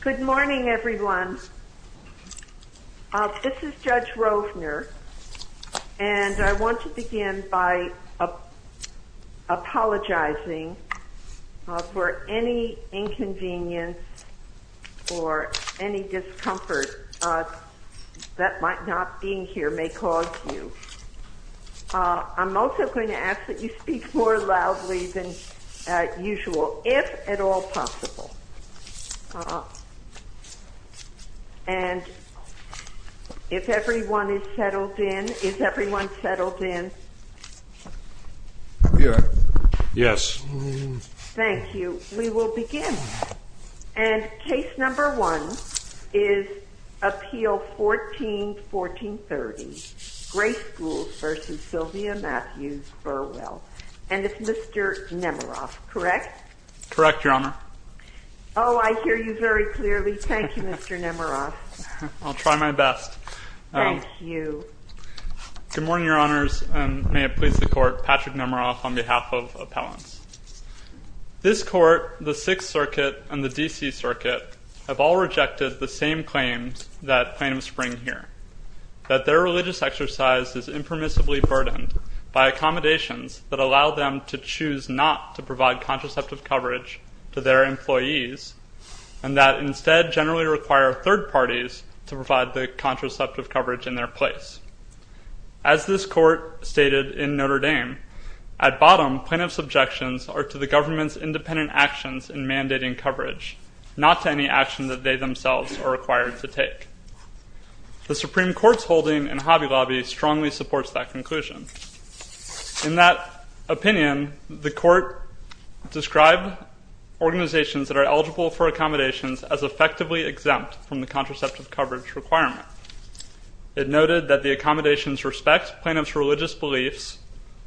Good morning, everyone. This is Judge Rovner, and I want to begin by apologizing for any inconvenience or any discomfort that might not being here may cause you. I'm also going to ask that you speak more loudly than usual, if at all possible. And if everyone is settled in, is everyone settled in? Yes. Thank you. We will begin. And case number one is Appeal 14-1430, Gray Schools v. Sylvia Mathews Burwell. And it's Mr. Nemeroff, correct? Correct, Your Honor. Oh, I hear you very clearly. Thank you, Mr. Nemeroff. I'll try my best. Thank you. Good morning, Your Honors, and may it please the Court, Patrick Nemeroff on behalf of appellants. This Court, the Sixth Circuit, and the D.C. Circuit have all rejected the same claims that claim spring here, that their religious exercise is impermissibly burdened by accommodations that allow them to choose not to provide contraceptive coverage to their employees and that instead generally require third parties to provide the contraceptive coverage in their place. As this Court stated in Notre Dame, at bottom plaintiff's objections are to the government's independent actions in mandating coverage, not to any action that they themselves are required to take. The Supreme Court's holding in Hobby Lobby strongly supports that conclusion. In that opinion, the Court described organizations that are eligible for accommodations as effectively exempt from the contraceptive coverage requirement. It noted that the accommodations respect plaintiff's religious beliefs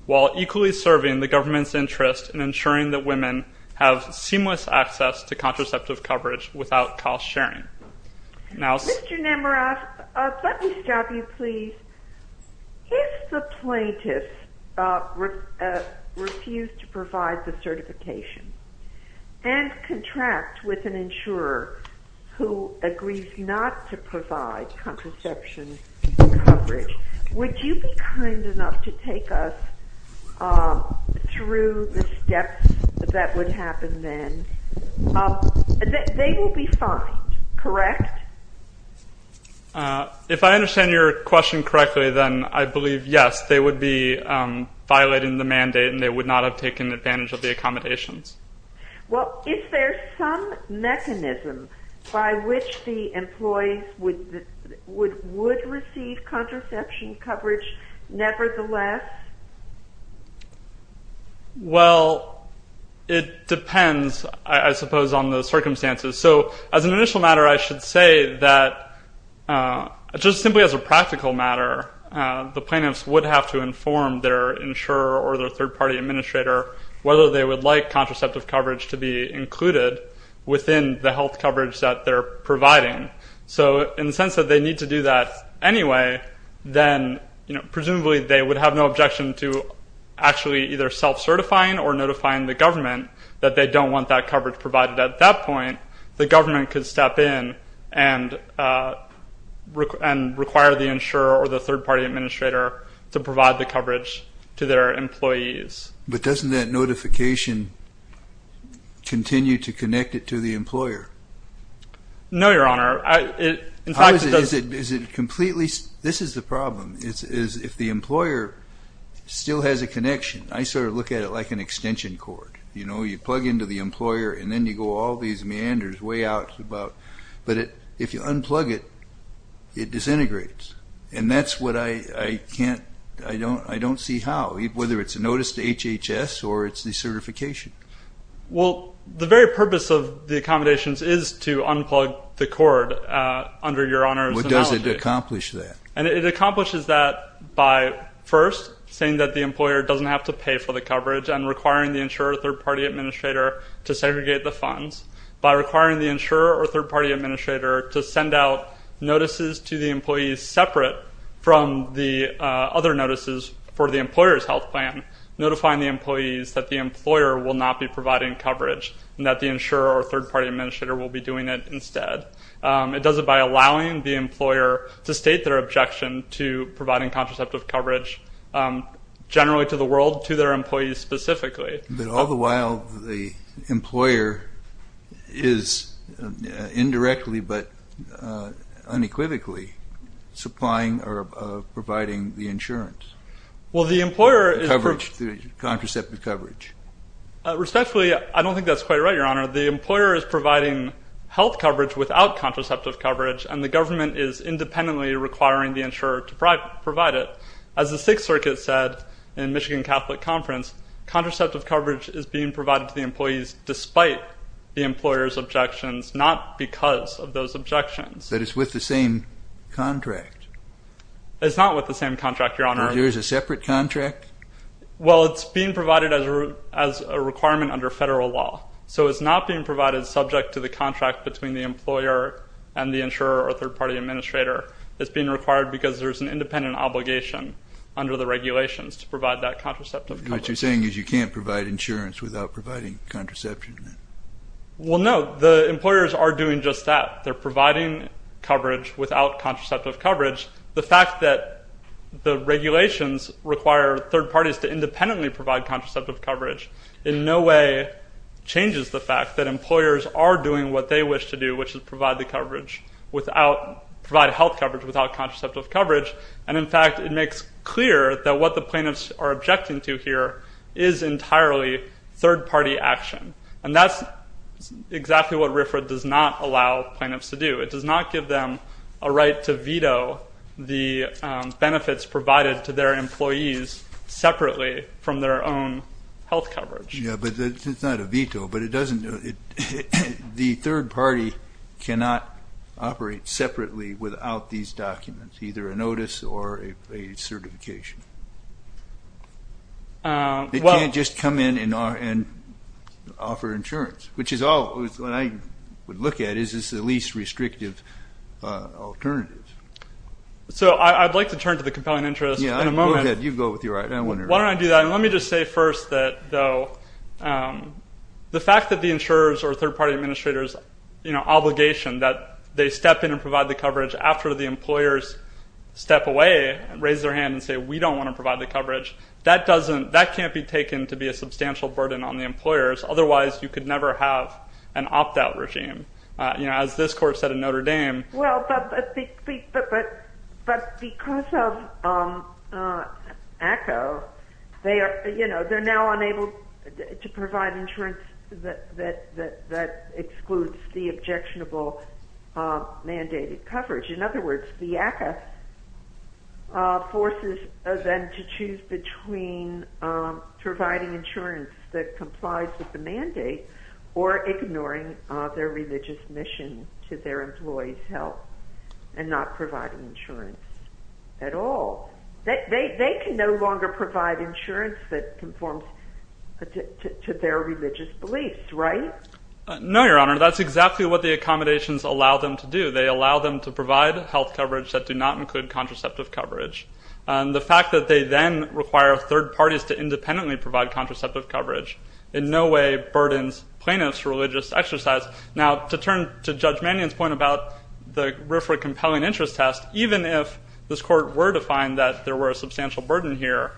while equally serving the government's interest in ensuring that women have seamless access to contraceptive coverage without cost sharing. Mr. Nemeroff, let me stop you please. If the plaintiff refused to provide the certification and contract with an insurer who agrees not to provide contraception coverage, would you be kind enough to take us through the steps that would happen then? They will be fined, correct? If I understand your question correctly, then I believe yes, they would be violating the mandate and they would not have taken advantage of the accommodations. Well, is there some mechanism by which the employees would receive contraception coverage nevertheless? Well, it depends, I suppose, on the circumstances. So as an initial matter, I should say that just simply as a practical matter, the plaintiffs would have to inform their insurer or their third-party administrator whether they would like contraceptive coverage to be included within the health coverage that they're providing. So in the sense that they need to do that anyway, then presumably they would have no objection to actually either self-certifying or notifying the government that they don't want that coverage provided at that point. The government could step in and require the insurer or the third-party administrator to provide the coverage to their employees. But doesn't that notification continue to connect it to the employer? No, Your Honor. This is the problem. If the employer still has a connection, I sort of look at it like an extension cord. You plug into the employer and then you go all these meanders way out. But if you unplug it, it disintegrates. And that's what I don't see how, whether it's a notice to HHS or it's the certification. Well, the very purpose of the accommodations is to unplug the cord under Your Honor's analysis. What does it accomplish then? It accomplishes that by, first, saying that the employer doesn't have to pay for the coverage and requiring the insurer or third-party administrator to segregate the funds. By requiring the insurer or third-party administrator to send out notices to the employees separate from the other notices for the employer's health plan, notifying the employees that the employer will not be providing coverage and that the insurer or third-party administrator will be doing it instead. It does it by allowing the employer to state their objection to providing contraceptive coverage generally to the world, to their employees specifically. All the while, the employer is indirectly but unequivocally supplying or providing the insurance. The contraceptive coverage. Respectfully, I don't think that's quite right, Your Honor. The employer is providing health coverage without contraceptive coverage and the government is independently requiring the insurer to provide it. As the Sixth Circuit said in Michigan Catholic Conference, contraceptive coverage is being provided to the employees despite the employer's objections, not because of those objections. That it's with the same contract. It's not with the same contract, Your Honor. Is there a separate contract? Well, it's being provided as a requirement under federal law. So it's not being provided subject to the contract between the employer and the insurer or third-party administrator. It's being required because there's an independent obligation under the regulations to provide that contraceptive coverage. What you're saying is you can't provide insurance without providing contraception. Well, no. The employers are doing just that. They're providing coverage without contraceptive coverage. The fact that the regulations require third parties to independently provide contraceptive coverage in no way changes the fact that employers are doing what they wish to do, which is provide health coverage without contraceptive coverage. And, in fact, it makes clear that what the plaintiffs are objecting to here is entirely third-party action. And that's exactly what RFRA does not allow plaintiffs to do. It does not give them a right to veto the benefits provided to their employees separately from their own health coverage. Yeah, but it's not a veto. But the third party cannot operate separately without these documents, either a notice or a certification. They can't just come in and offer insurance, which is all I would look at is the least restrictive alternatives. So I'd like to turn to the compelling interest in a moment. Yeah, go ahead. You go with your argument. Why don't I do that? And let me just say first, though, the fact that the insurers step away and raise their hand and say, we don't want to provide the coverage, that can't be taken to be a substantial burden on the employers. Otherwise, you could never have an opt-out regime. As this court said in Notre Dame. Well, but because of ACCO, they're now unable to provide insurance that excludes the objectionable mandated coverage. In other words, the ACCO forces them to choose between providing insurance that complies with the mandate or ignoring their religious mission to their employees' health and not providing insurance at all. They can no longer provide insurance that conforms to their religious beliefs, right? No, Your Honor. That's exactly what the accommodations allow them to do. They allow them to provide health coverage that do not include contraceptive coverage. The fact that they then require third parties to independently provide contraceptive coverage in no way burdens plaintiff's religious exercise. Now, to turn to Judge Mannion's point about the RFRA compelling interest test, even if this court were to find that there were a substantial burden here,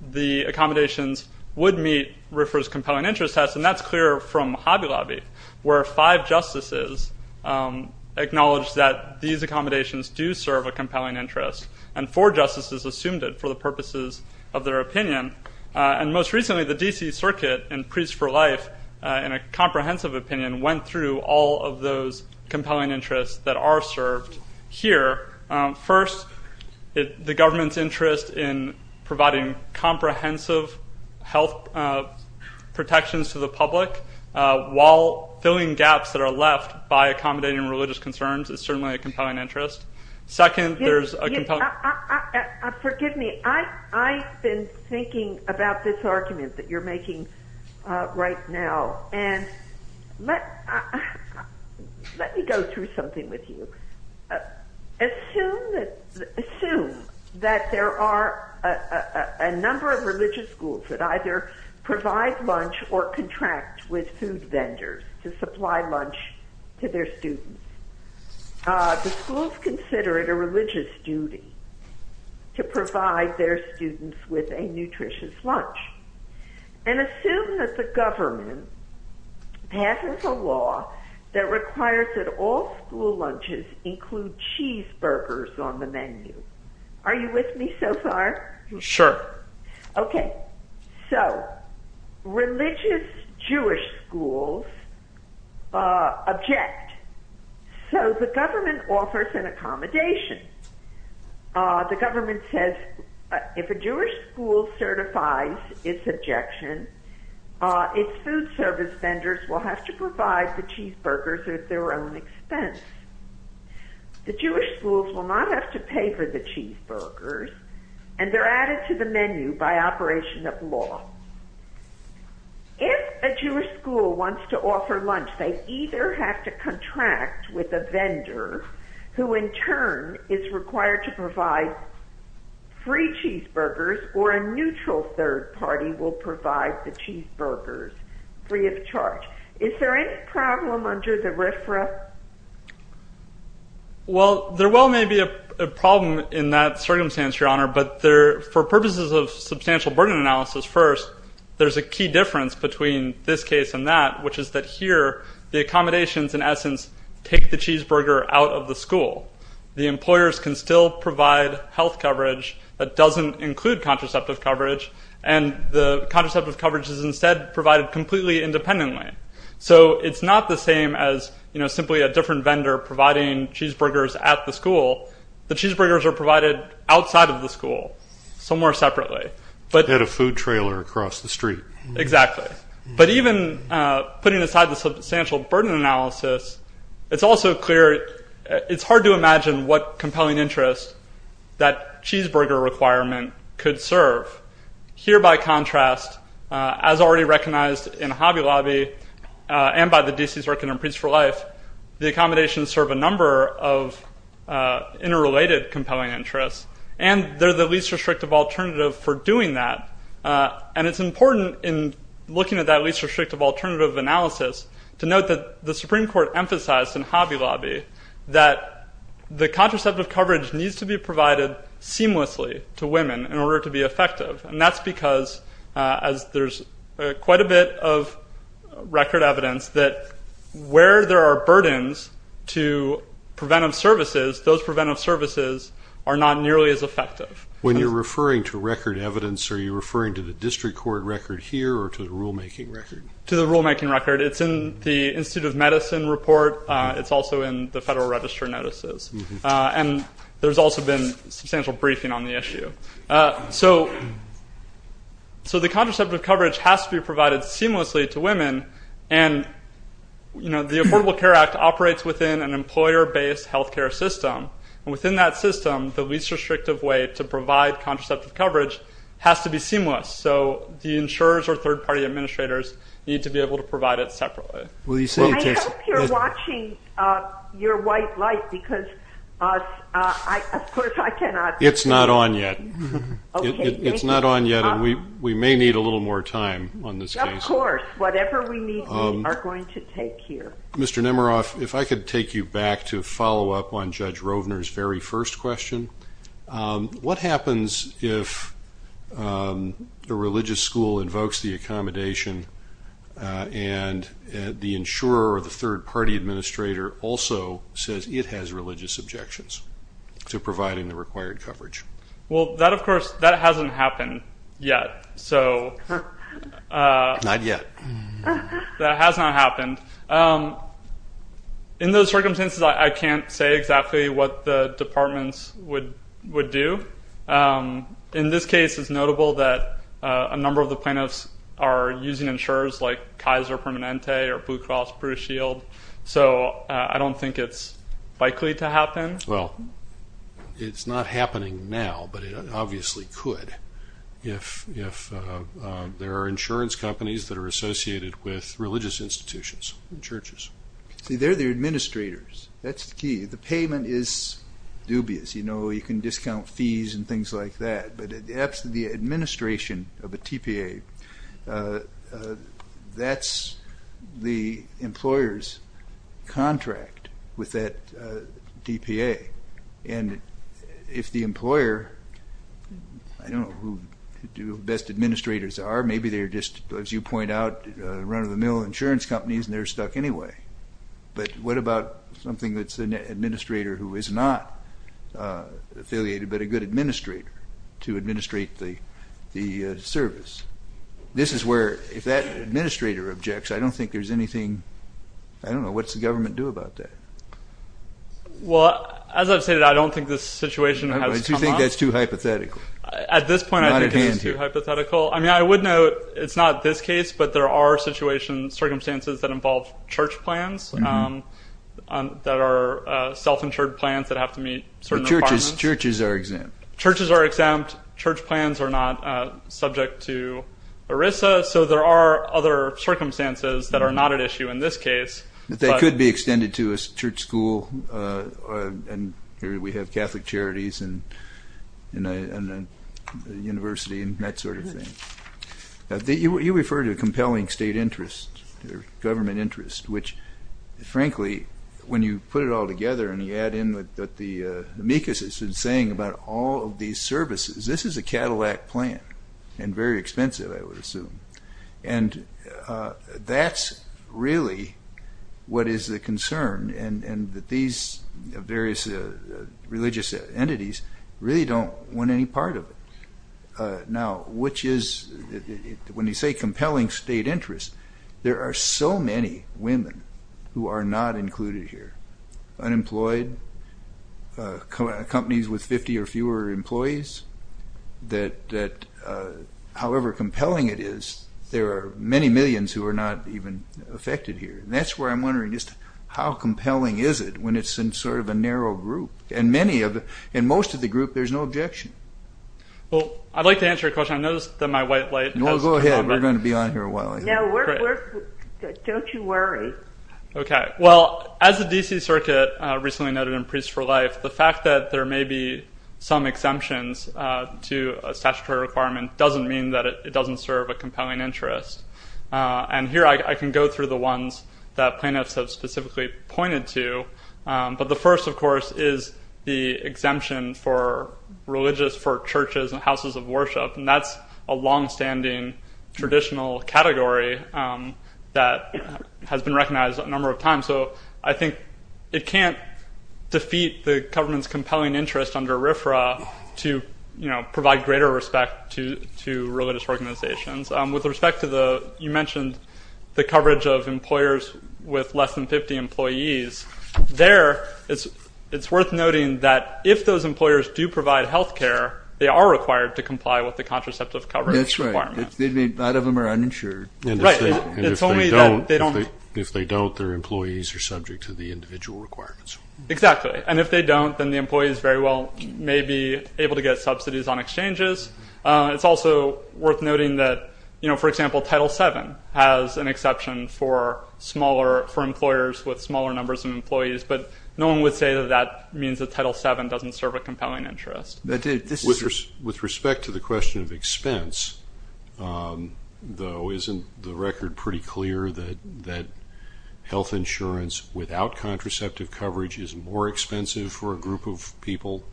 the accommodations would meet RFRA's compelling interest test, and that's clear from Hobby Lobby, where five justices acknowledged that these accommodations do serve a compelling interest, and four justices assumed it for the purposes of their opinion. And most recently, the D.C. Circuit in Priest for Life, in a comprehensive opinion, went through all of those compelling interests that are served here. First, the government's interest in providing comprehensive health protections to the public while filling gaps that are left by accommodating religious concerns is certainly a compelling interest. Second, there's a compelling interest... Forgive me. I've been thinking about this argument that you're making right now, and let me go through something with you. Assume that there are a number of religious schools that either provide lunch or contract with food vendors to supply lunch to their students. The schools consider it a religious duty to provide their students with a nutritious lunch. And assume that the government passes a law that requires that all school lunches include cheeseburgers on the menu. Are you with me so far? Sure. Okay. So, religious Jewish schools object. So the government offers an accommodation. The government says if a Jewish school certifies its objection, its food service vendors will have to provide the cheeseburgers at their own expense. The Jewish schools will not have to pay for the cheeseburgers, and they're added to the menu by operation of law. If a Jewish school wants to offer lunch, they either have to contract with a vendor who in turn is required to provide free cheeseburgers or a neutral third party will provide the cheeseburgers free of charge. Is there any problem under the RIFRA? Well, there well may be a problem in that circumstance, Your Honor, but for purposes of substantial burden analysis first, there's a key difference between this case and that, which is that here the accommodations in essence take the cheeseburger out of the school. The employers can still provide health coverage that doesn't include contraceptive coverage, and the contraceptive coverage is instead provided completely independently. So it's not the same as simply a different vendor providing cheeseburgers at the school. The cheeseburgers are provided outside of the school, somewhere separately. At a food trailer across the street. Exactly. But even putting aside the substantial burden analysis, it's also clear it's hard to imagine what compelling interest that cheeseburger requirement could serve. Here, by contrast, as already recognized in Hobby Lobby and by the D.C. Circuit and Police for Life, the accommodations serve a number of interrelated compelling interests, and there's a least restrictive alternative for doing that. And it's important in looking at that least restrictive alternative analysis to note that the Supreme Court emphasized in Hobby Lobby that the contraceptive coverage needs to be provided seamlessly to women in order to be effective, and that's because there's quite a bit of record evidence that where there are burdens to preventive services, those preventive services are not nearly as effective. When you're referring to record evidence, are you referring to the district court record here or to the rulemaking record? To the rulemaking record. It's in the Institute of Medicine report. It's also in the Federal Register notices. And there's also been substantial briefing on the issue. So the contraceptive coverage has to be provided seamlessly to women, and the Affordable Care Act operates within an employer-based health care system, and within that system the least restrictive way to provide contraceptive coverage has to be seamless. So the insurers or third-party administrators need to be able to provide it separately. I hope you're watching your white light because of course I cannot. It's not on yet. It's not on yet, and we may need a little more time on this case. Of course, whatever we need we are going to take here. Mr. Nemeroff, if I could take you back to follow up on Judge Rovner's very first question. What happens if the religious school invokes the accommodation and the insurer or the third-party administrator also says it has religious objections to providing the required coverage? Well, that, of course, that hasn't happened yet. Not yet. That has not happened. In those circumstances, I can't say exactly what the departments would do. In this case, it's notable that a number of the plaintiffs are using insurers like Kaiser Permanente or Blue Cross Blue Shield, so I don't think it's likely to happen. Well, it's not happening now, but it obviously could if there are insurance companies that are associated with religious institutions and churches. See, they're the administrators. That's the key. The payment is dubious. You can discount fees and things like that, but the administration of a TPA, that's the employer's contract with that TPA. And if the employer, I don't know who the best administrators are. Maybe they're just, as you point out, run-of-the-mill insurance companies, and they're stuck anyway. But what about something that's an administrator who is not affiliated but a good administrator to administrate the service? This is where, if that administrator objects, I don't think there's anything. I don't know. What's the government do about that? Well, as I said, I don't think this situation has come up. You think that's too hypothetical. At this point, I think it is too hypothetical. I mean, I would note it's not this case, but there are circumstances that involve church plans that are self-insured plans that have to meet certain requirements. Churches are exempt. Churches are exempt. Church plans are not subject to ERISA. So there are other circumstances that are not at issue in this case. They could be extended to a church school. Here we have Catholic Charities and a university and that sort of thing. You refer to compelling state interest or government interest, which, frankly, when you put it all together and you add in what the amicus is saying about all of these services, this is a Cadillac plan and very expensive, I would assume. And that's really what is the concern, and that these various religious entities really don't want any part of it. Now, when you say compelling state interest, there are so many women who are not included here, unemployed, companies with 50 or fewer employees, that however compelling it is, there are many millions who are not even affected here. And that's where I'm wondering just how compelling is it when it's in sort of a narrow group. In most of the group, there's no objection. Well, I'd like to answer your question. I noticed that my white light. No, go ahead. We're going to be on here a while. No, don't you worry. Okay. Well, as the D.C. Circuit recently noted in Priests for Life, the fact that there may be some exemptions to a statutory requirement doesn't mean that it doesn't serve a compelling interest. And here I can go through the ones that plaintiffs have specifically pointed to. But the first, of course, is the exemption for religious, for churches and houses of worship. And that's a longstanding traditional category that has been recognized a number of times. So I think it can't defeat the government's compelling interest under RFRA to provide greater respect to religious organizations. With respect to the, you mentioned the coverage of employers with less than 50 employees, there it's worth noting that if those employers do provide health care, they are required to comply with the contraceptive coverage requirement. That's right. A lot of them are uninsured. Right. And if they don't, their employees are subject to the individual requirements. Exactly. And if they don't, then the employees very well may be able to get subsidies on exchanges. It's also worth noting that, you know, for example, Title VII has an exception for employers with smaller numbers of employees. But no one would say that that means that Title VII doesn't serve a compelling interest. With respect to the question of expense, though, isn't the record pretty clear that health insurance without contraceptive coverage is more expensive for a group of people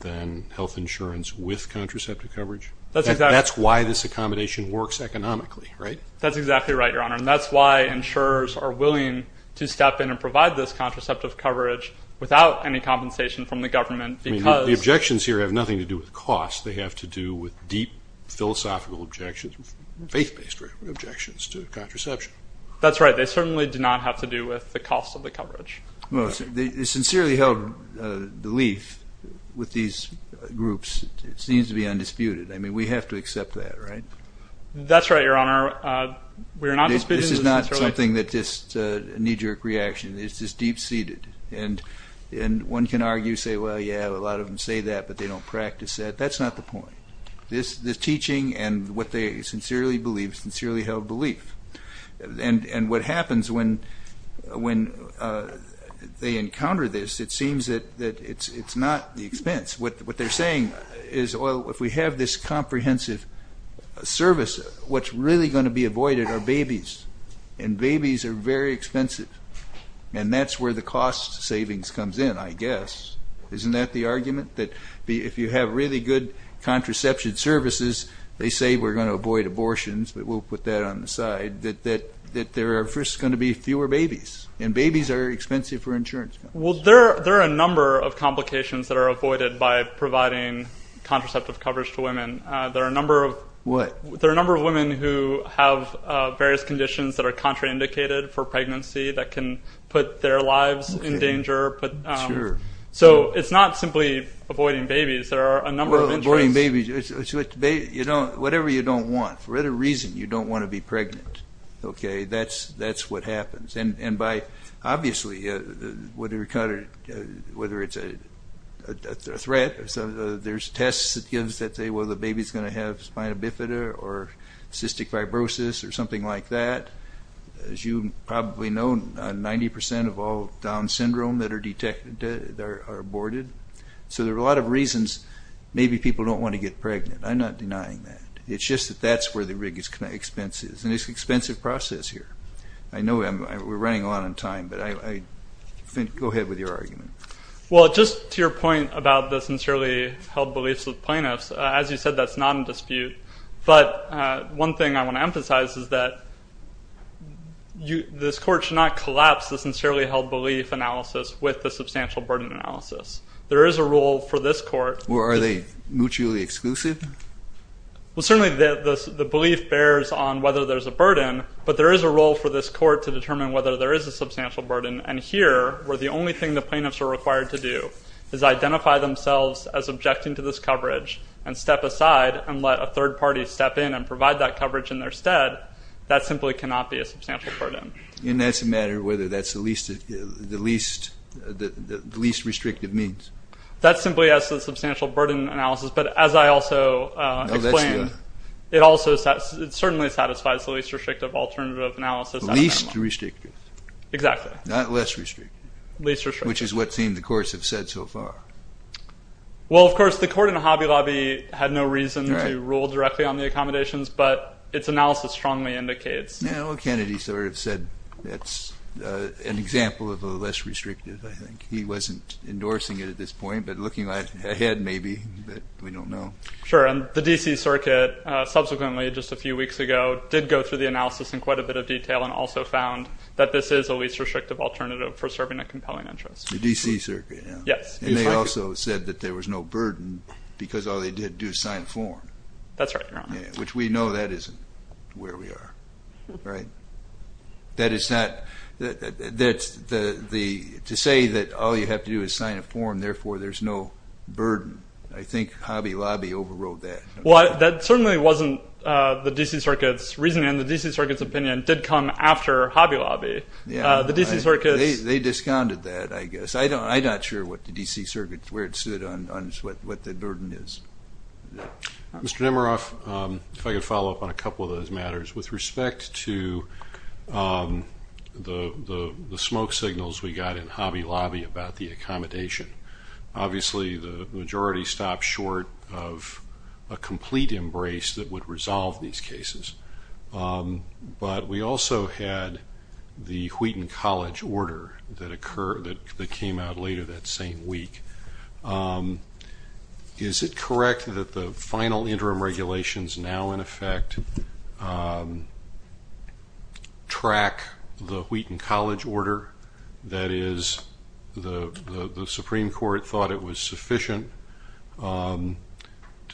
than health insurance with contraceptive coverage? That's why this accommodation works economically, right? That's exactly right, Your Honor, and that's why insurers are willing to step in and provide this contraceptive coverage without any compensation from the government because. The objections here have nothing to do with cost. They have to do with deep philosophical objections, faith-based objections to contraception. That's right. They certainly do not have to do with the cost of the coverage. Well, they sincerely held belief with these groups. It seems to be undisputed. I mean, we have to accept that, right? That's right, Your Honor. This is not something that's just a knee-jerk reaction. It's just deep-seated. And one can argue, say, well, yeah, a lot of them say that, but they don't practice that. That's not the point. The teaching and what they sincerely believe, sincerely held belief. And what happens when they encounter this, it seems that it's not the expense. What they're saying is, well, if we have this comprehensive service, what's really going to be avoided are babies, and babies are very expensive, and that's where the cost savings comes in, I guess. Isn't that the argument, that if you have really good contraception services, they say we're going to avoid abortions, but we'll put that on the side, that there are first going to be fewer babies, and babies are expensive for insurance. Well, there are a number of complications that are avoided by providing contraceptive coverage to women. There are a number of women who have various conditions that are contraindicated for pregnancy that can put their lives in danger. So it's not simply avoiding babies. Avoiding babies, it's whatever you don't want. For whatever reason, you don't want to be pregnant. That's what happens. And obviously, whether it's a threat, there's tests that give that say, well, the baby's going to have spina bifida or cystic fibrosis or something like that. As you probably know, 90% of all Down syndrome that are detected are aborted. So there are a lot of reasons maybe people don't want to get pregnant. I'm not denying that. It's just that that's where the biggest expense is. And it's an expensive process here. I know we're running out of time, but go ahead with your argument. Well, just to your point about the sincerely held beliefs with plaintiffs, as you said, that's not in dispute. But one thing I want to emphasize is that this court should not collapse the sincerely held belief analysis with the substantial burden analysis. There is a rule for this court. Or are they mutually exclusive? Well, certainly the belief bears on whether there's a burden, but there is a rule for this court to determine whether there is a substantial burden. And here, where the only thing the plaintiffs are required to do is identify themselves as objecting to this coverage and step aside and let a third party step in and provide that coverage in their stead, that simply cannot be a substantial burden. And that's a matter of whether that's the least restrictive means. That simply is a substantial burden analysis. But as I also explained, it certainly satisfies the least restrictive alternative analysis. The least restrictive. Exactly. Not less restrictive. Least restrictive. Which is what the courts have said so far. Well, of course, the court in Hobby Lobby had no reason to rule directly on the accommodations, but its analysis strongly indicates. Well, Kennedy sort of said that's an example of a less restrictive, I think. He wasn't endorsing it at this point, but looking ahead, maybe. But we don't know. Sure. And the D.C. Circuit subsequently, just a few weeks ago, did go through the analysis in quite a bit of detail and also found that this is the least restrictive alternative for serving a compelling interest. The D.C. Circuit, yeah. Yes. And they also said that there was no burden because all they did do is sign form. That's right. Which we know that isn't where we are. Right. That is not that the to say that all you have to do is sign a form. Therefore, there's no burden. I think Hobby Lobby overrode that. Well, that certainly wasn't the D.C. Circuit's reasoning. The D.C. Circuit's opinion did come after Hobby Lobby. Yeah. The D.C. Circuit. They discounted that, I guess. I don't I'm not sure what the D.C. Circuit where it stood on what the burden is. Mr. Nemeroff, if I could follow up on a couple of those matters. With respect to the smoke signals we got in Hobby Lobby about the accommodation, obviously the majority stopped short of a complete embrace that would resolve these cases. But we also had the Wheaton College order that came out later that same week. Is it correct that the final interim regulations now, in effect, track the Wheaton College order? That is, the Supreme Court thought it was sufficient to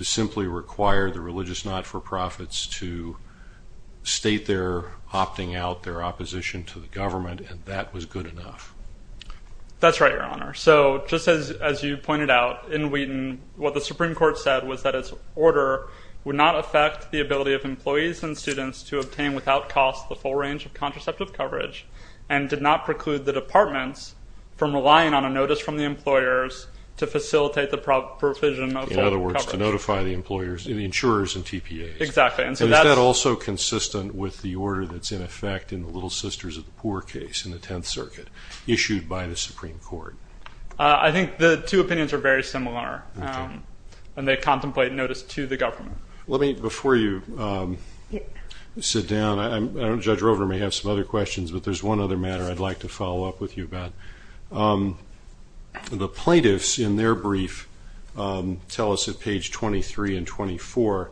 simply require the religious not-for-profits to state they're opting out their opposition to the government and that was good enough? That's right, Your Honor. So just as you pointed out, in Wheaton, what the Supreme Court said was that its order would not affect the ability of employees and students to obtain without cost the full range of contraceptive coverage and did not preclude the departments from relying on a notice from the employers to facilitate the provision. In other words, notify the employers and the insurers and TPAs. Exactly. Is that also consistent with the order that's in effect in the Little Sisters of the Poor case in the 10th Circuit issued by the Supreme Court? I think the two opinions are very similar when they contemplate notice to the government. Before you sit down, Judge Rover may have some other questions, but there's one other matter I'd like to follow up with you about. The plaintiffs in their brief tell us at page 23 and 24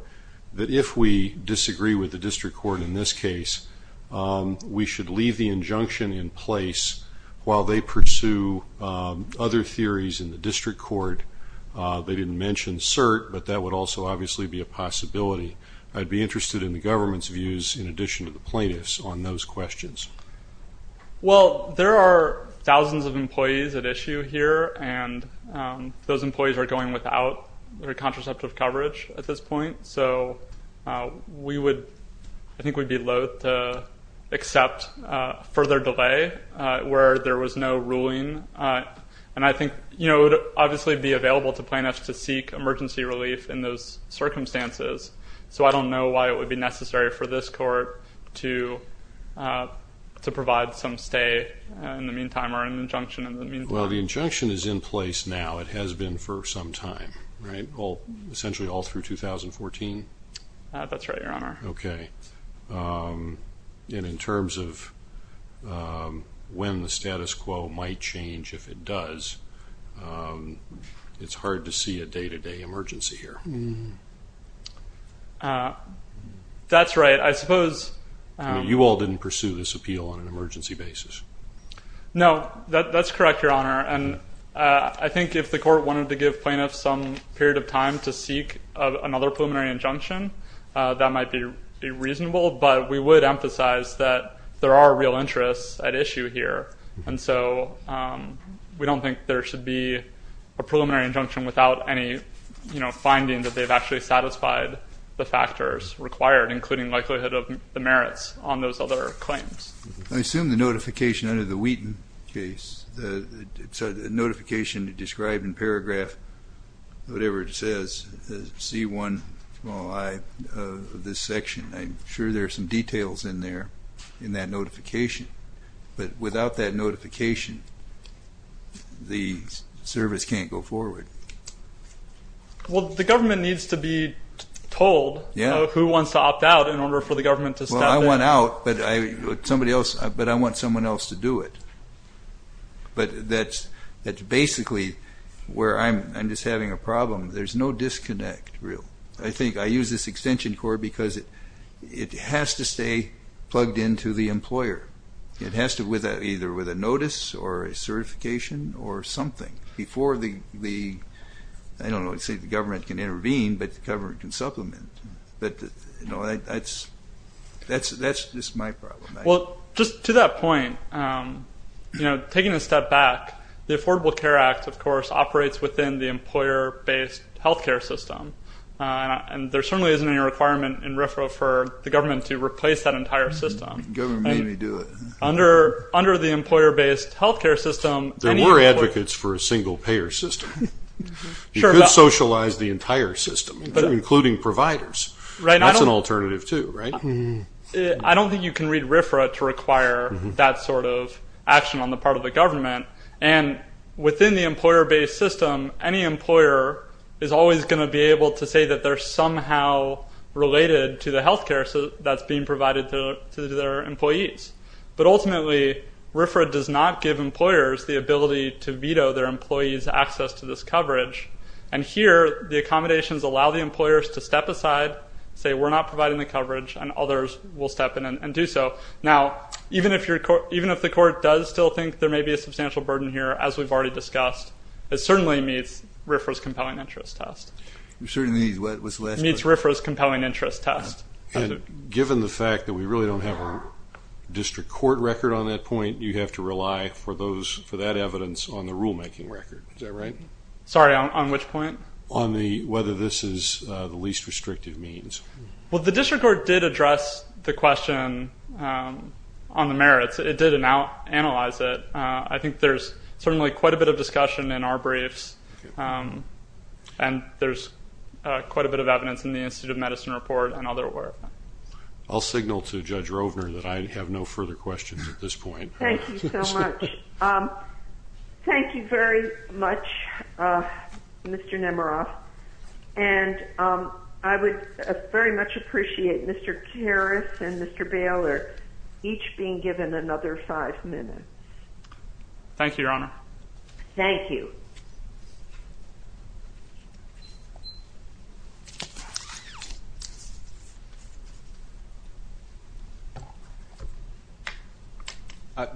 that if we disagree with the district court in this case, we should leave the injunction in place while they pursue other theories in the district court. They didn't mention cert, but that would also obviously be a possibility. I'd be interested in the government's views in addition to the plaintiffs on those questions. Well, there are thousands of employees at issue here, and those employees are going without their contraceptive coverage at this point. I think we'd be loathe to accept further delay where there was no ruling. I think it would obviously be available to plaintiffs to seek emergency relief in those circumstances, so I don't know why it would be necessary for this court to provide some stay in the meantime or an injunction in the meantime. Well, the injunction is in place now. It has been for some time, essentially all through 2014. That's right, Your Honor. Okay. And in terms of when the status quo might change, if it does, it's hard to see a day-to-day emergency here. That's right. I suppose... You all didn't pursue this appeal on an emergency basis. No, that's correct, Your Honor. And I think if the court wanted to give plaintiffs some period of time to seek another preliminary injunction, that might be reasonable, but we would emphasize that there are real interests at issue here, and so we don't think there should be a preliminary injunction without any, you know, finding that they've actually satisfied the factors required, including likelihood of the merits on those other claims. I assume the notification under the Wheaton case, the notification described in paragraph whatever it says, C1 of this section, I'm sure there's some details in there in that notification, but without that notification, the service can't go forward. Well, the government needs to be told who wants to opt out in order for the government to stop it. Well, I want out, but I want someone else to do it. But that's basically where I'm just having a problem. There's no disconnect, really. I think I use this extension court because it has to stay plugged into the employer. It has to, either with a notice or a certification or something before the, I don't know, the government can intervene, but the government can supplement. But, you know, that's just my problem. Well, just to that point, you know, taking a step back, the Affordable Care Act, of course, operates within the employer-based health care system, and there certainly isn't any requirement in RFRA for the government to replace that entire system. The government can do it. Under the employer-based health care system, there were advocates for a single-payer system. You could socialize the entire system, including providers. That's an alternative, too, right? I don't think you can read RFRA to require that sort of action on the part of the government, and within the employer-based system, any employer is always going to be able to say that they're somehow related to the health care that's being provided to their employees. But ultimately, RFRA does not give employers the ability to veto their employees' access to this coverage. And here, the accommodations allow the employers to step aside, say, we're not providing the coverage, and others will step in and do so. Now, even if the court does still think there may be a substantial burden here, as we've already discussed, it certainly meets RFRA's compelling interest test. It certainly meets what? It meets RFRA's compelling interest test. Given the fact that we really don't have a district court record on that point, you have to rely for that evidence on the rulemaking record. Is that right? Sorry, on which point? On whether this is the least restrictive means. Well, the district court did address the question on the merits. It did analyze it. I think there's certainly quite a bit of discussion in our briefs, and there's quite a bit of evidence in the Institute of Medicine report and other work. I'll signal to Judge Rovner that I have no further questions at this point. Thank you so much. Thank you very much, Mr. Nemeroff. And I would very much appreciate Mr. Karras and Mr. Baylor each being given another five minutes. Thank you, Your Honor. Thank you.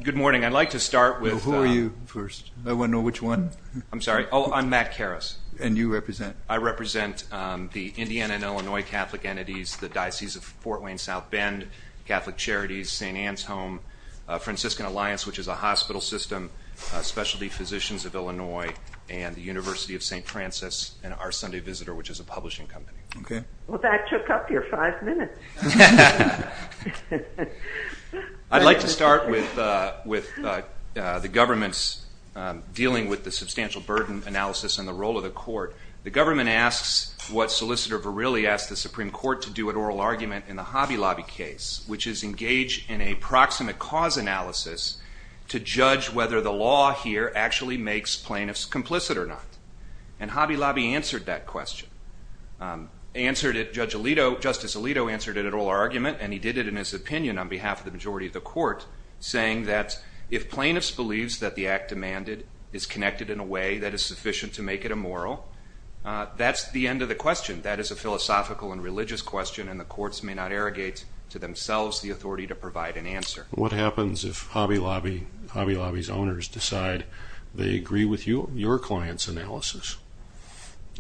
Good morning. I'd like to start with- Who are you first? I want to know which one. I'm sorry. Oh, I'm Matt Karras. And you represent? I represent the Indiana and Illinois Catholic entities, the Diocese of Fort Wayne-South Bend, Catholic Charities, St. Anne's Home, Franciscan Alliance, which is a hospital system, Specialty Physicians of Illinois, and the University of St. Francis, and Our Sunday Visitor, which is a publishing company. Okay. Well, that took up your five minutes. I'd like to start with the government's dealing with the substantial burden analysis and the role of the court. The government asks what Solicitor Verrilli asked the Supreme Court to do at oral argument in the Hobby Lobby case, which is engage in a proximate cause analysis to judge whether the law here actually makes plaintiffs complicit or not. And Hobby Lobby answered that question. Justice Alito answered it at oral argument, and he did it in his opinion on behalf of the majority of the court, saying that if plaintiffs believe that the act demanded is connected in a way that is sufficient to make it immoral, that's the end of the question. That is a philosophical and religious question, and the courts may not arrogate to themselves the authority to provide an answer. What happens if Hobby Lobby's owners decide they agree with your client's analysis,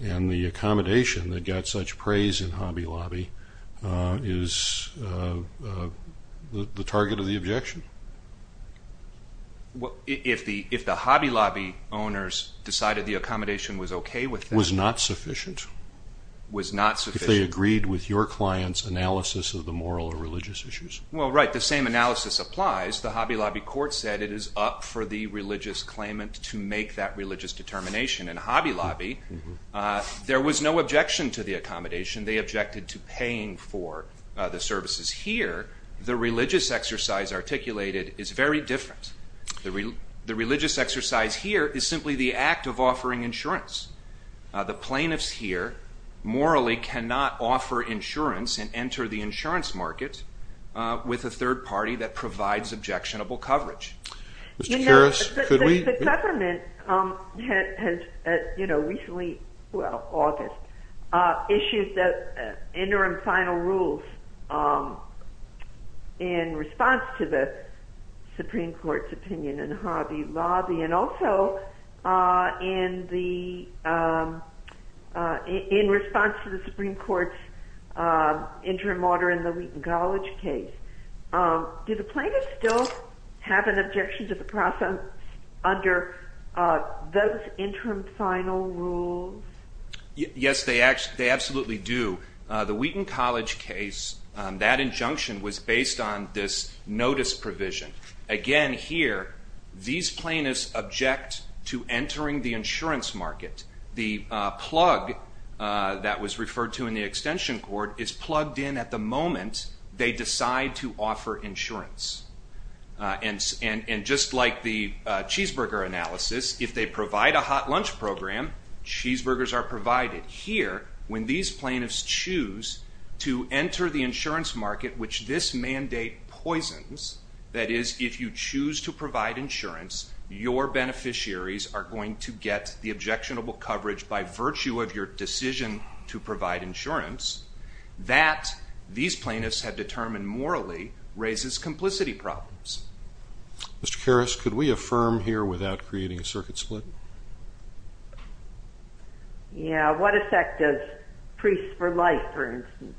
and the accommodation that got such praise in Hobby Lobby is the target of the objection? If the Hobby Lobby owners decided the accommodation was okay with them... Was not sufficient? Was not sufficient. If they agreed with your client's analysis of the moral or religious issues? Well, right, the same analysis applies. The Hobby Lobby court said it is up for the religious claimant to make that religious determination. In Hobby Lobby, there was no objection to the accommodation. They objected to paying for the services here. The religious exercise articulated is very different. The religious exercise here is simply the act of offering insurance. The plaintiffs here morally cannot offer insurance and enter the insurance markets with a third party that provides objectionable coverage. The government recently issued interim final rules in response to the Supreme Court's opinion in Hobby Lobby, and also in response to the Supreme Court's interim order in the Wheaton College case. Do the plaintiffs still have an objection to the process under those interim final rules? Yes, they absolutely do. The Wheaton College case, that injunction was based on this notice provision. Again, here, these plaintiffs object to entering the insurance market. The plug that was referred to in the extension court is plugged in at the moment they decide to offer insurance. And just like the cheeseburger analysis, if they provide a hot lunch program, cheeseburgers are provided. Here, when these plaintiffs choose to enter the insurance market, which this mandate poisons, that is, if you choose to provide insurance, your beneficiaries are going to get the objectionable coverage by virtue of your decision to provide insurance, that these plaintiffs have determined morally raises complicity problems. Mr. Karras, could we affirm here without creating a circuit split? Yeah, what effect does Priests for Life, for instance,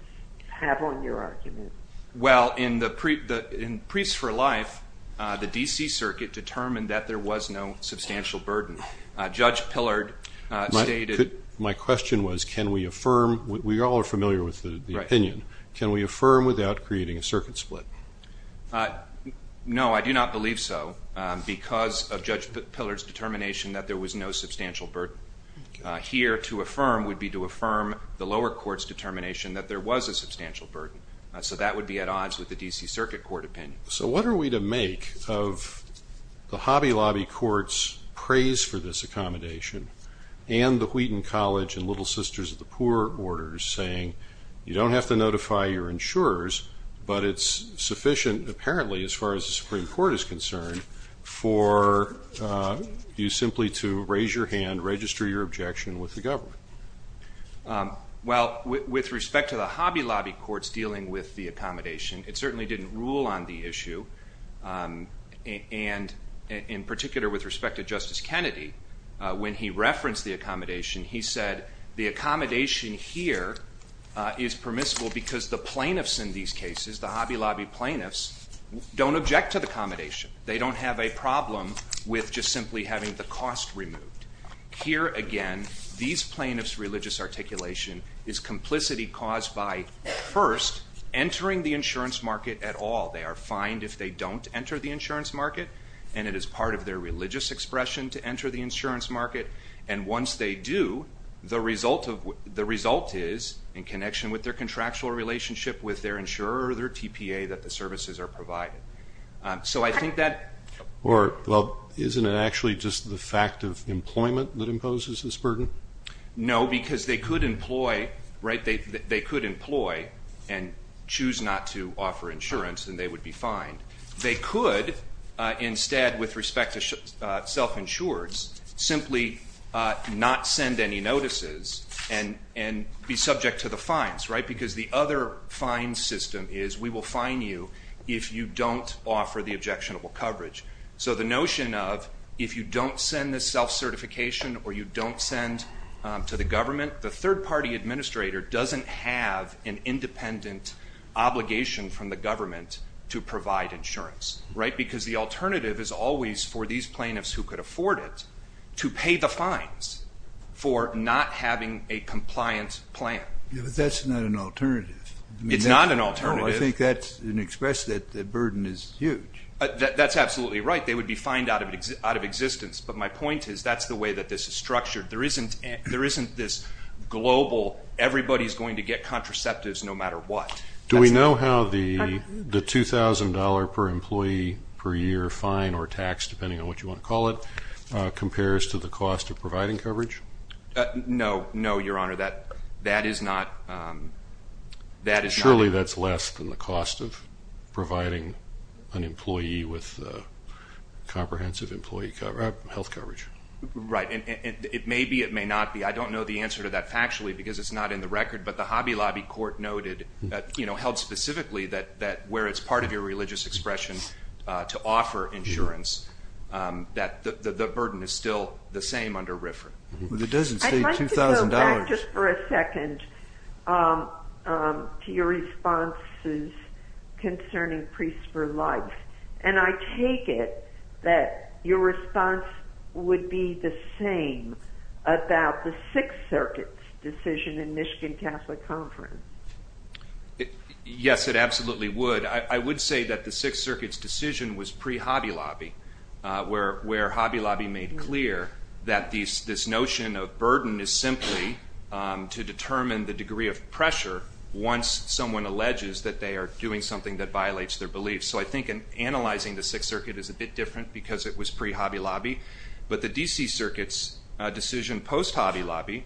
have on your argument? Well, in Priests for Life, the D.C. Circuit determined that there was no substantial burden. Judge Pillard stated... My question was, can we affirm, we're all familiar with the opinion, can we affirm without creating a circuit split? No, I do not believe so, because of Judge Pillard's determination that there was no substantial burden. Here, to affirm would be to affirm the lower court's determination that there was a substantial burden. So that would be at odds with the D.C. Circuit Court opinion. So what are we to make of the Hobby Lobby Court's praise for this accommodation, and the Wheaton College and Little Sisters of the Poor orders saying, you don't have to notify your insurers, but it's sufficient, apparently, as far as the Supreme Court is concerned, for you simply to raise your hand, register your objection with the government? Well, with respect to the Hobby Lobby Courts dealing with the accommodation, it certainly didn't rule on the issue, and in particular with respect to Justice Kennedy, when he referenced the accommodation, he said the accommodation here is permissible because the plaintiffs in these cases, the Hobby Lobby plaintiffs, don't object to the accommodation. They don't have a problem with just simply having the cost removed. Here, again, these plaintiffs' religious articulation is complicity caused by, first, entering the insurance market at all. They are fined if they don't enter the insurance market, and it is part of their religious expression to enter the insurance market, and once they do, the result is, in connection with their contractual relationship with their insurer or their TPA, that the services are provided. Isn't it actually just the fact of employment that imposes this burden? No, because they could employ and choose not to offer insurance, and they would be fined. They could, instead, with respect to self-insureds, simply not send any notices and be subject to the fines, because the other fine system is, we will fine you if you don't offer the objectionable coverage. So the notion of, if you don't send this self-certification or you don't send to the government, the third-party administrator doesn't have an independent obligation from the government to provide insurance, because the alternative is always, for these plaintiffs who could afford it, to pay the fines for not having a compliance plan. But that's not an alternative. It's not an alternative. I think that's an expression that the burden is huge. That's absolutely right. They would be fined out of existence, but my point is that's the way that this is structured. There isn't this global, everybody's going to get contraceptives no matter what. Do we know how the $2,000 per employee per year fine or tax, depending on what you want to call it, compares to the cost of providing coverage? No. No, Your Honor. That is not. Surely that's less than the cost of providing an employee with comprehensive health coverage. Right. It may be, it may not be. I don't know the answer to that factually, because it's not in the record, but the Hobby Lobby court noted, held specifically that where it's part of your religious expression to offer insurance, that the burden is still the same under RFRA. It doesn't say $2,000. I'd like to go back just for a second to your responses concerning priests for life, and I take it that your response would be the same about the Sixth Circuit's decision in Michigan Catholic Conference. Yes, it absolutely would. I would say that the Sixth Circuit's decision was pre-Hobby Lobby, where Hobby Lobby made clear that this notion of burden is simply to determine the degree of pressure once someone alleges that they are doing something that violates their beliefs. So I think analyzing the Sixth Circuit is a bit different because it was pre-Hobby Lobby, but the D.C. Circuit's decision post-Hobby Lobby,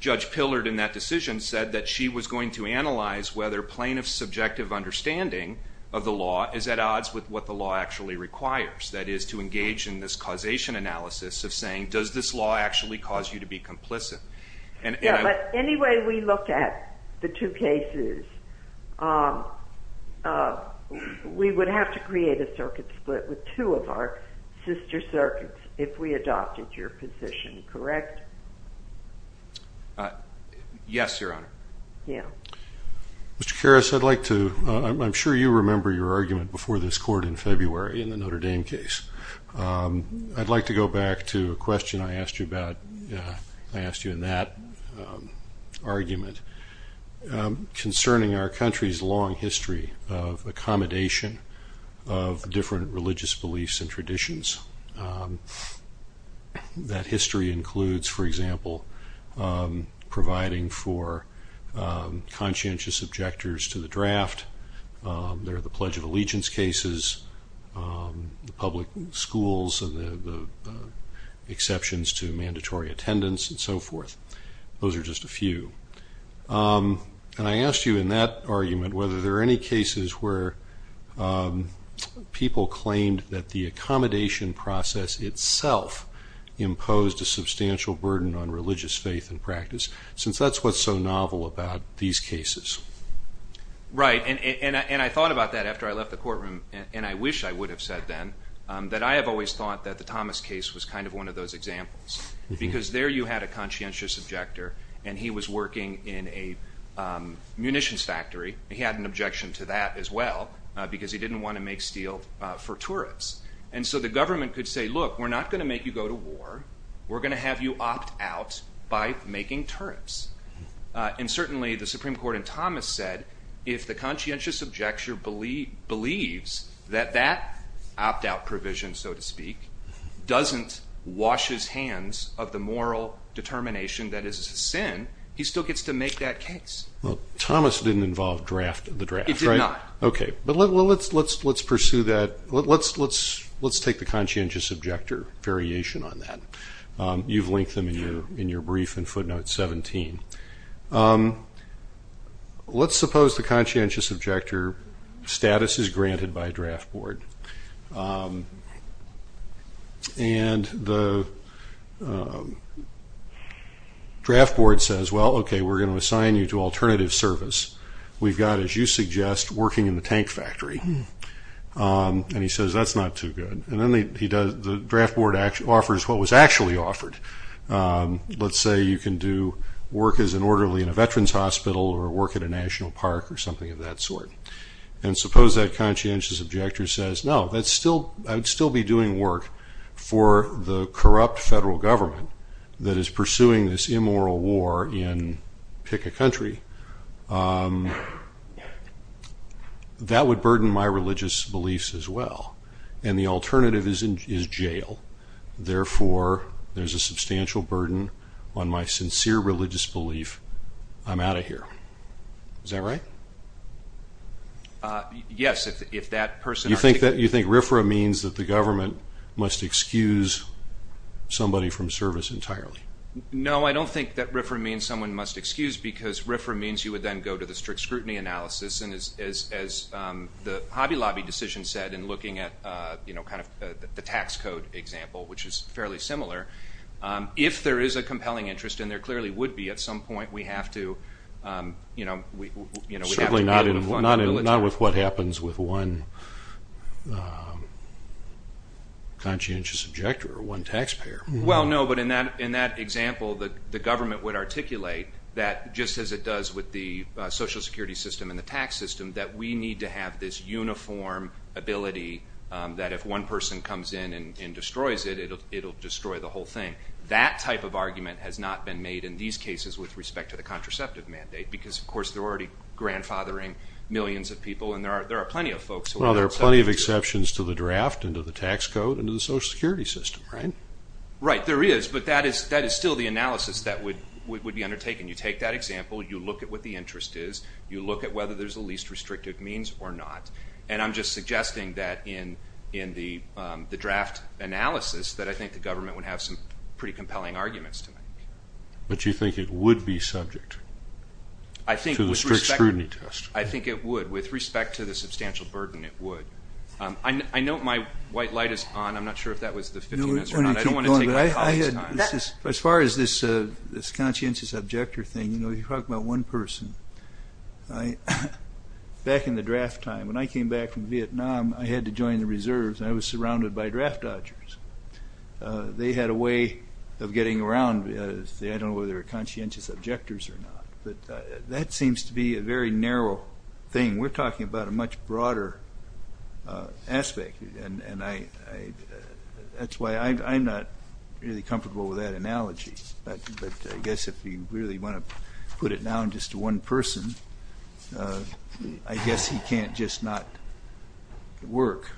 Judge Pillard in that decision said that she was going to analyze whether plaintiff's subjective understanding of the law is at odds with what the law actually requires. That is, to engage in this causation analysis of saying, does this law actually cause you to be complicit? Yeah, but any way we look at the two cases, we would have to create a circuit split with two of our sister circuits if we adopted your position, correct? Yes, Your Honor. Mr. Karas, I'm sure you remember your argument before this court in February in the Notre Dame case. I'd like to go back to a question I asked you in that argument concerning our country's long history of accommodation of different religious beliefs and traditions. That history includes, for example, providing for conscientious objectors to the draft. There are the Pledge of Allegiance cases, the public schools and the exceptions to mandatory attendance and so forth. Those are just a few. I asked you in that argument whether there are any cases where people claimed that the accommodation process itself imposed a substantial burden on religious faith and practice, since that's what's so novel about these cases. Right, and I thought about that after I left the courtroom, and I wish I would have said then, that I have always thought that the Thomas case was kind of one of those examples, because there you had a conscientious objector, and he was working in a munitions factory. He had an objection to that as well, because he didn't want to make steel for tourists. And so the government could say, look, we're not going to make you go to war. We're going to have you opt out by making tourists. And certainly the Supreme Court in Thomas said, if the conscientious objector believes that that opt-out provision, so to speak, doesn't wash his hands of the moral determination that is his sin, he still gets to make that case. Well, Thomas didn't involve the draft, right? He did not. Okay, but let's pursue that. Let's take the conscientious objector variation on that. You've linked them in your brief in footnote 17. Let's suppose the conscientious objector status is granted by draft board. And the draft board says, well, okay, we're going to assign you to alternative service. We've got, as you suggest, working in the tank factory. And he says, that's not too good. And then the draft board offers what was actually offered. Let's say you can do work as an orderly in a veterans hospital or work at a national park or something of that sort. And suppose that conscientious objector says, no, I'd still be doing work for the corrupt federal government that is pursuing this immoral war in pick a country. That would burden my religious beliefs as well. And the alternative is jail. Therefore, there's a substantial burden on my sincere religious belief. I'm out of here. Is that right? Yes. You think RFRA means that the government must excuse somebody from service entirely? No, I don't think that RFRA means someone must excuse because RFRA means you would then go to the strict scrutiny analysis. And as the Hobby Lobby decision said in looking at kind of the tax code example, which is fairly similar, if there is a compelling interest, and there clearly would be at some point, we have to, you know, Certainly not with what happens with one conscientious objector or one taxpayer. Well, no, but in that example, the government would articulate that just as it does with the social security system and the tax system, that we need to have this uniform ability that if one person comes in and destroys it, it'll destroy the whole thing. That type of argument has not been made in these cases with respect to the contraceptive mandate because, of course, they're already grandfathering millions of people, and there are plenty of folks. Well, there are plenty of exceptions to the draft and to the tax code and to the social security system, right? Right, there is, but that is still the analysis that would be undertaken. You take that example, you look at what the interest is, you look at whether there's a least restrictive means or not, and I'm just suggesting that in the draft analysis that I think the government would have some pretty compelling arguments. But you think it would be subject to the strict scrutiny test? I think it would. With respect to the substantial burden, it would. I know my white light is on. I'm not sure if that was the 15 minutes or not. As far as this conscientious objector thing, you know, you're talking about one person. Back in the draft time, when I came back from Vietnam, I had to join the reserves, and I was surrounded by draft dodgers. They had a way of getting around, I don't know whether they were conscientious objectors or not, but that seems to be a very narrow thing. We're talking about a much broader aspect, and that's why I'm not really comfortable with that analogy. But I guess if you really want to put it down just to one person, I guess you can't just not work.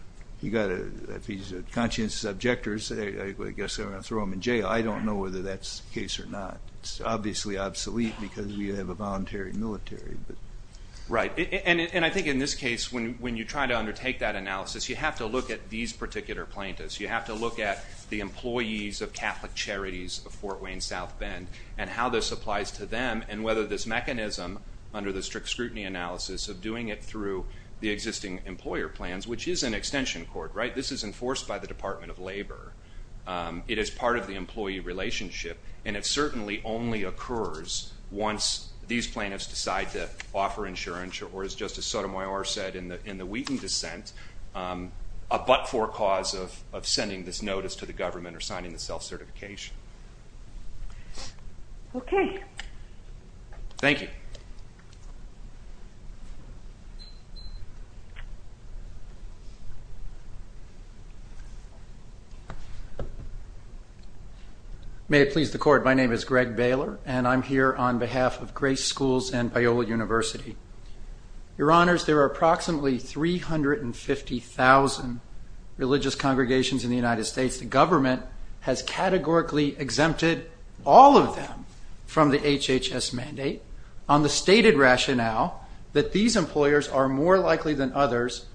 If he's a conscientious objector, I guess they're going to throw him in jail. I don't know whether that's the case or not. It's obviously obsolete because you have a voluntary military. Right, and I think in this case, when you try to undertake that analysis, you have to look at these particular plaintiffs. You have to look at the employees of Catholic Charities of Fort Wayne South Bend and how this applies to them and whether this mechanism under the strict scrutiny analysis of doing it through the existing employer plans, which is an extension court, right? This is enforced by the Department of Labor. It is part of the employee relationship, and it certainly only occurs once these plaintiffs decide to offer insurance or, as Justice Sotomayor said in the Wheaton dissent, a but-for cause of sending this notice to the government or signing the self-certification. Okay. Thank you. May it please the Court, my name is Greg Baylor, and I'm here on behalf of Grace Schools and Biola University. Your Honors, there are approximately 350,000 religious congregations in the United States. The government has categorically exempted all of them from the HHS mandate on the stated rationale that these employers are more likely than others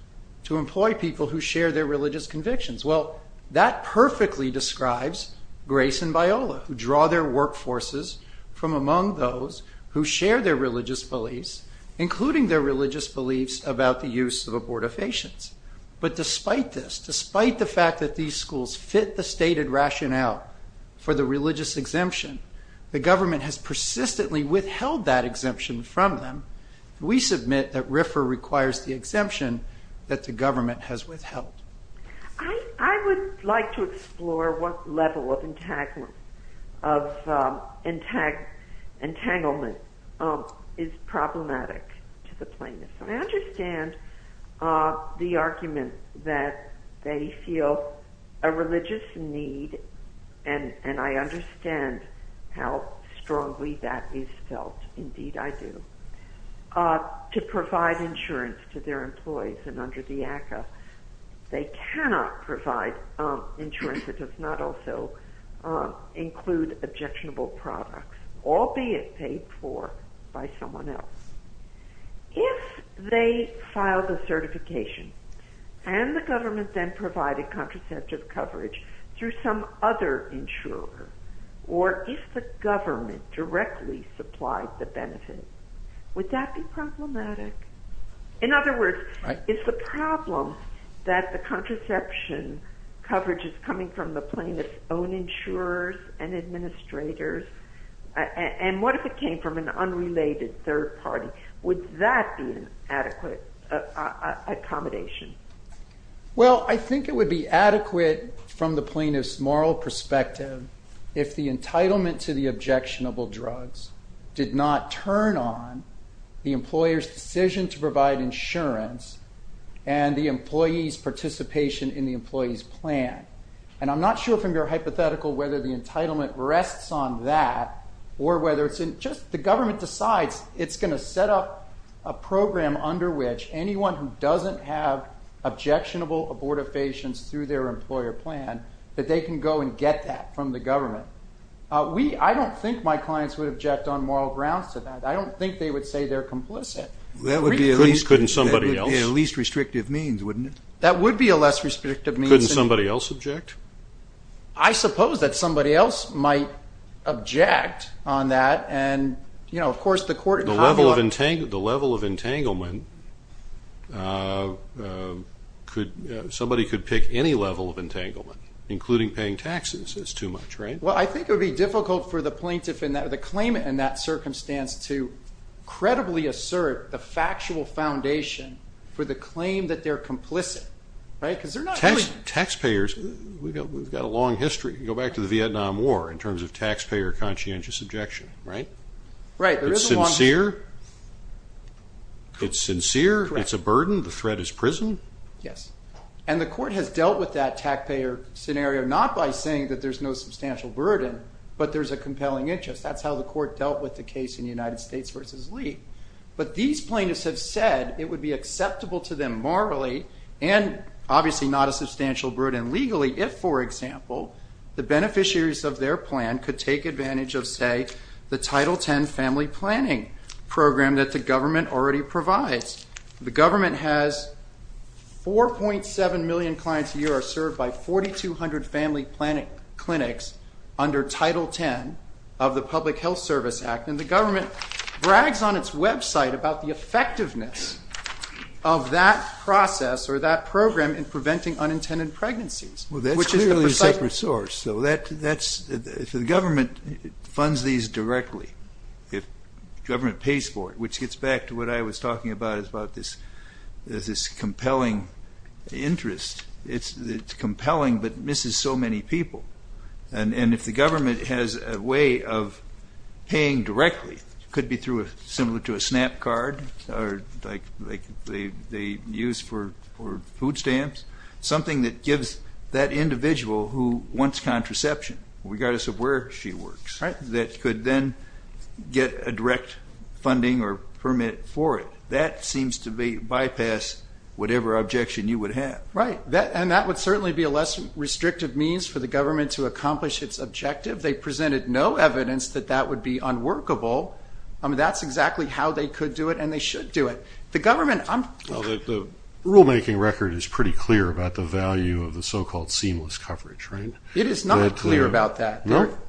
to employ people who share their religious convictions. Well, that perfectly describes Grace and Biola, who draw their workforces from among those who share their religious beliefs, including their religious beliefs about the use of abortifacients. But despite this, despite the fact that these schools fit the stated rationale for the religious exemption, the government has persistently withheld that exemption from them. We submit that RFRA requires the exemption that the government has withheld. I would like to explore what level of entanglement is problematic to the plaintiffs. I understand the argument that they feel a religious need, and I understand how strongly that is felt. Indeed, I do. To provide insurance to their employees and under the RFRA, they cannot provide insurance that does not also include objectionable products, albeit paid for by someone else. If they file the certification, can the government then provide a contraceptive coverage through some other insurer? Or if the government directly supplied the benefit, would that be problematic? In other words, is the problem that the contraception coverage is coming from the plaintiff's own insurers and administrators? And what if it came from an unrelated third party? Would that be an adequate accommodation? Well, I think it would be adequate from the plaintiff's moral perspective if the entitlement to the objectionable drugs did not turn on the employer's decision to provide insurance and the employee's participation in the employee's plan. And I'm not sure from your hypothetical whether the entitlement rests on that or whether it's just the government decides it's going to set up a program under which anyone who doesn't have objectionable abortifacients through their employer plan, that they can go and get that from the government. I don't think my clients would object on moral grounds to that. I don't think they would say they're complicit. That would be a least restrictive means, wouldn't it? That would be a less restrictive means. Couldn't somebody else object? I suppose that somebody else might object on that. The level of entanglement, somebody could pick any level of entanglement, including paying taxes. That's too much, right? Well, I think it would be difficult for the plaintiff, the claimant in that circumstance, to credibly assert the factual foundation for the claim that they're complicit. Taxpayers, we've got a long history. Go back to the Vietnam War in terms of taxpayer conscientious objection, right? Right. It's sincere? It's sincere, it's a burden, the threat is prison? Yes. And the court has dealt with that taxpayer scenario not by saying that there's no substantial burden, but there's a compelling interest. That's how the court dealt with the case in the United States versus Lee. But these plaintiffs have said it would be acceptable to them morally and obviously not a substantial burden legally if, for example, the beneficiaries of their plan could take advantage of, say, the Title X family planning program that the government already provides. The government has 4.7 million clients a year are served by 4,200 family planning clinics under Title X of the Public Health Service Act, and the government brags on its website about the effectiveness of that process or that program in preventing unintended pregnancies. Well, that's clearly a separate source. If the government funds these directly, if government pays for it, which gets back to what I was talking about is about this compelling interest, it's compelling but misses so many people. And if the government has a way of paying directly, similar to a SNAP card or like they use for food stamps, something that gives that individual who wants contraception, regardless of where she works, that could then get a direct funding or permit for it. That seems to bypass whatever objection you would have. Right, and that would certainly be a less restrictive means for the government to accomplish its objective. They presented no evidence that that would be unworkable. That's exactly how they could do it and they should do it. The government, I'm... The rulemaking record is pretty clear about the value of the so-called seamless coverage, right? It is not clear about that.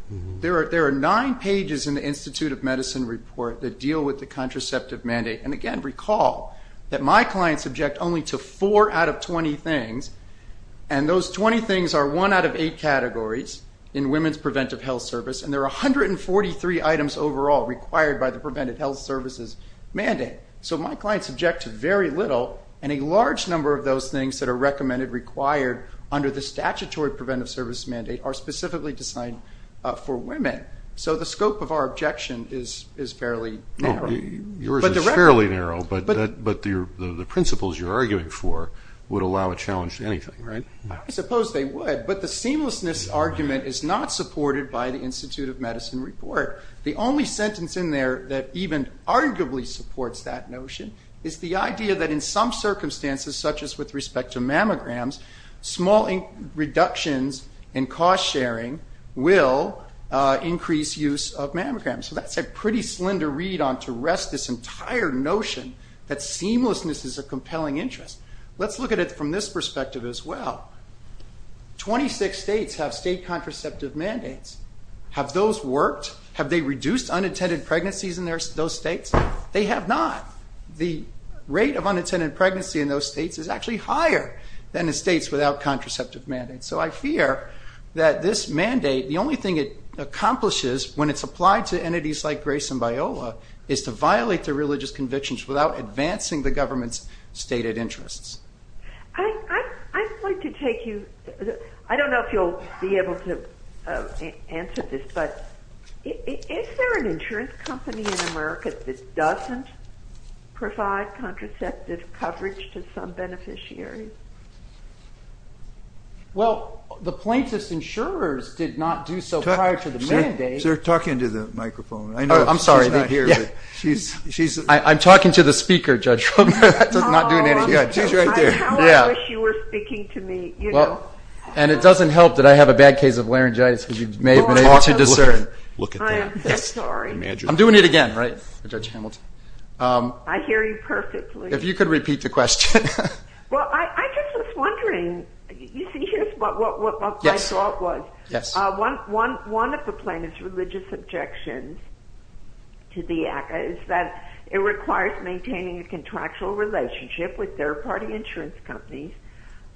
There are nine pages in the Institute of Medicine report that deal with the contraceptive mandate. And, again, recall that my clients object only to four out of 20 things, and those 20 things are one out of eight categories in women's preventive health service and there are 143 items overall required by the preventive health services mandate. So my clients object to very little and a large number of those things that are recommended, required under the statutory preventive service mandate are specifically designed for women. So the scope of our objection is fairly narrow. Yours is fairly narrow, but the principles you're arguing for would allow a challenge to anything, right? I suppose they would, but the seamlessness argument is not supported by the Institute of Medicine report. The only sentence in there that even arguably supports that notion is the idea that in some circumstances, such as with respect to mammograms, small reductions in cost sharing will increase use of mammograms. So that's a pretty slender read on to rest this entire notion that seamlessness is a compelling interest. Let's look at it from this perspective as well. Twenty-six states have state contraceptive mandates. Have those worked? Have they reduced unintended pregnancies in those states? They have not. The rate of unintended pregnancy in those states is actually higher than the states without contraceptive mandates. So I fear that this mandate, the only thing it accomplishes when it's applied to entities like Grace and Biola, is to violate their religious convictions without advancing the government's stated interests. I'm going to take you, I don't know if you'll be able to answer this, but is there an insurance company in America that doesn't provide contraceptive coverage to some beneficiaries? Well, the plaintiff's insurers did not do so prior to the mandate. They're talking to the microphone. I'm sorry. I'm talking to the speaker, Judge. She's right there. I wish you were speaking to me. And it doesn't help that I have a bad case of laryngitis. I'm doing it again, right? I hear you perfectly. If you could repeat your question. Well, I guess I was wondering, you see, here's what my thought was. One of the plaintiff's religious objections is that it requires maintaining a contractual relationship with third-party insurance companies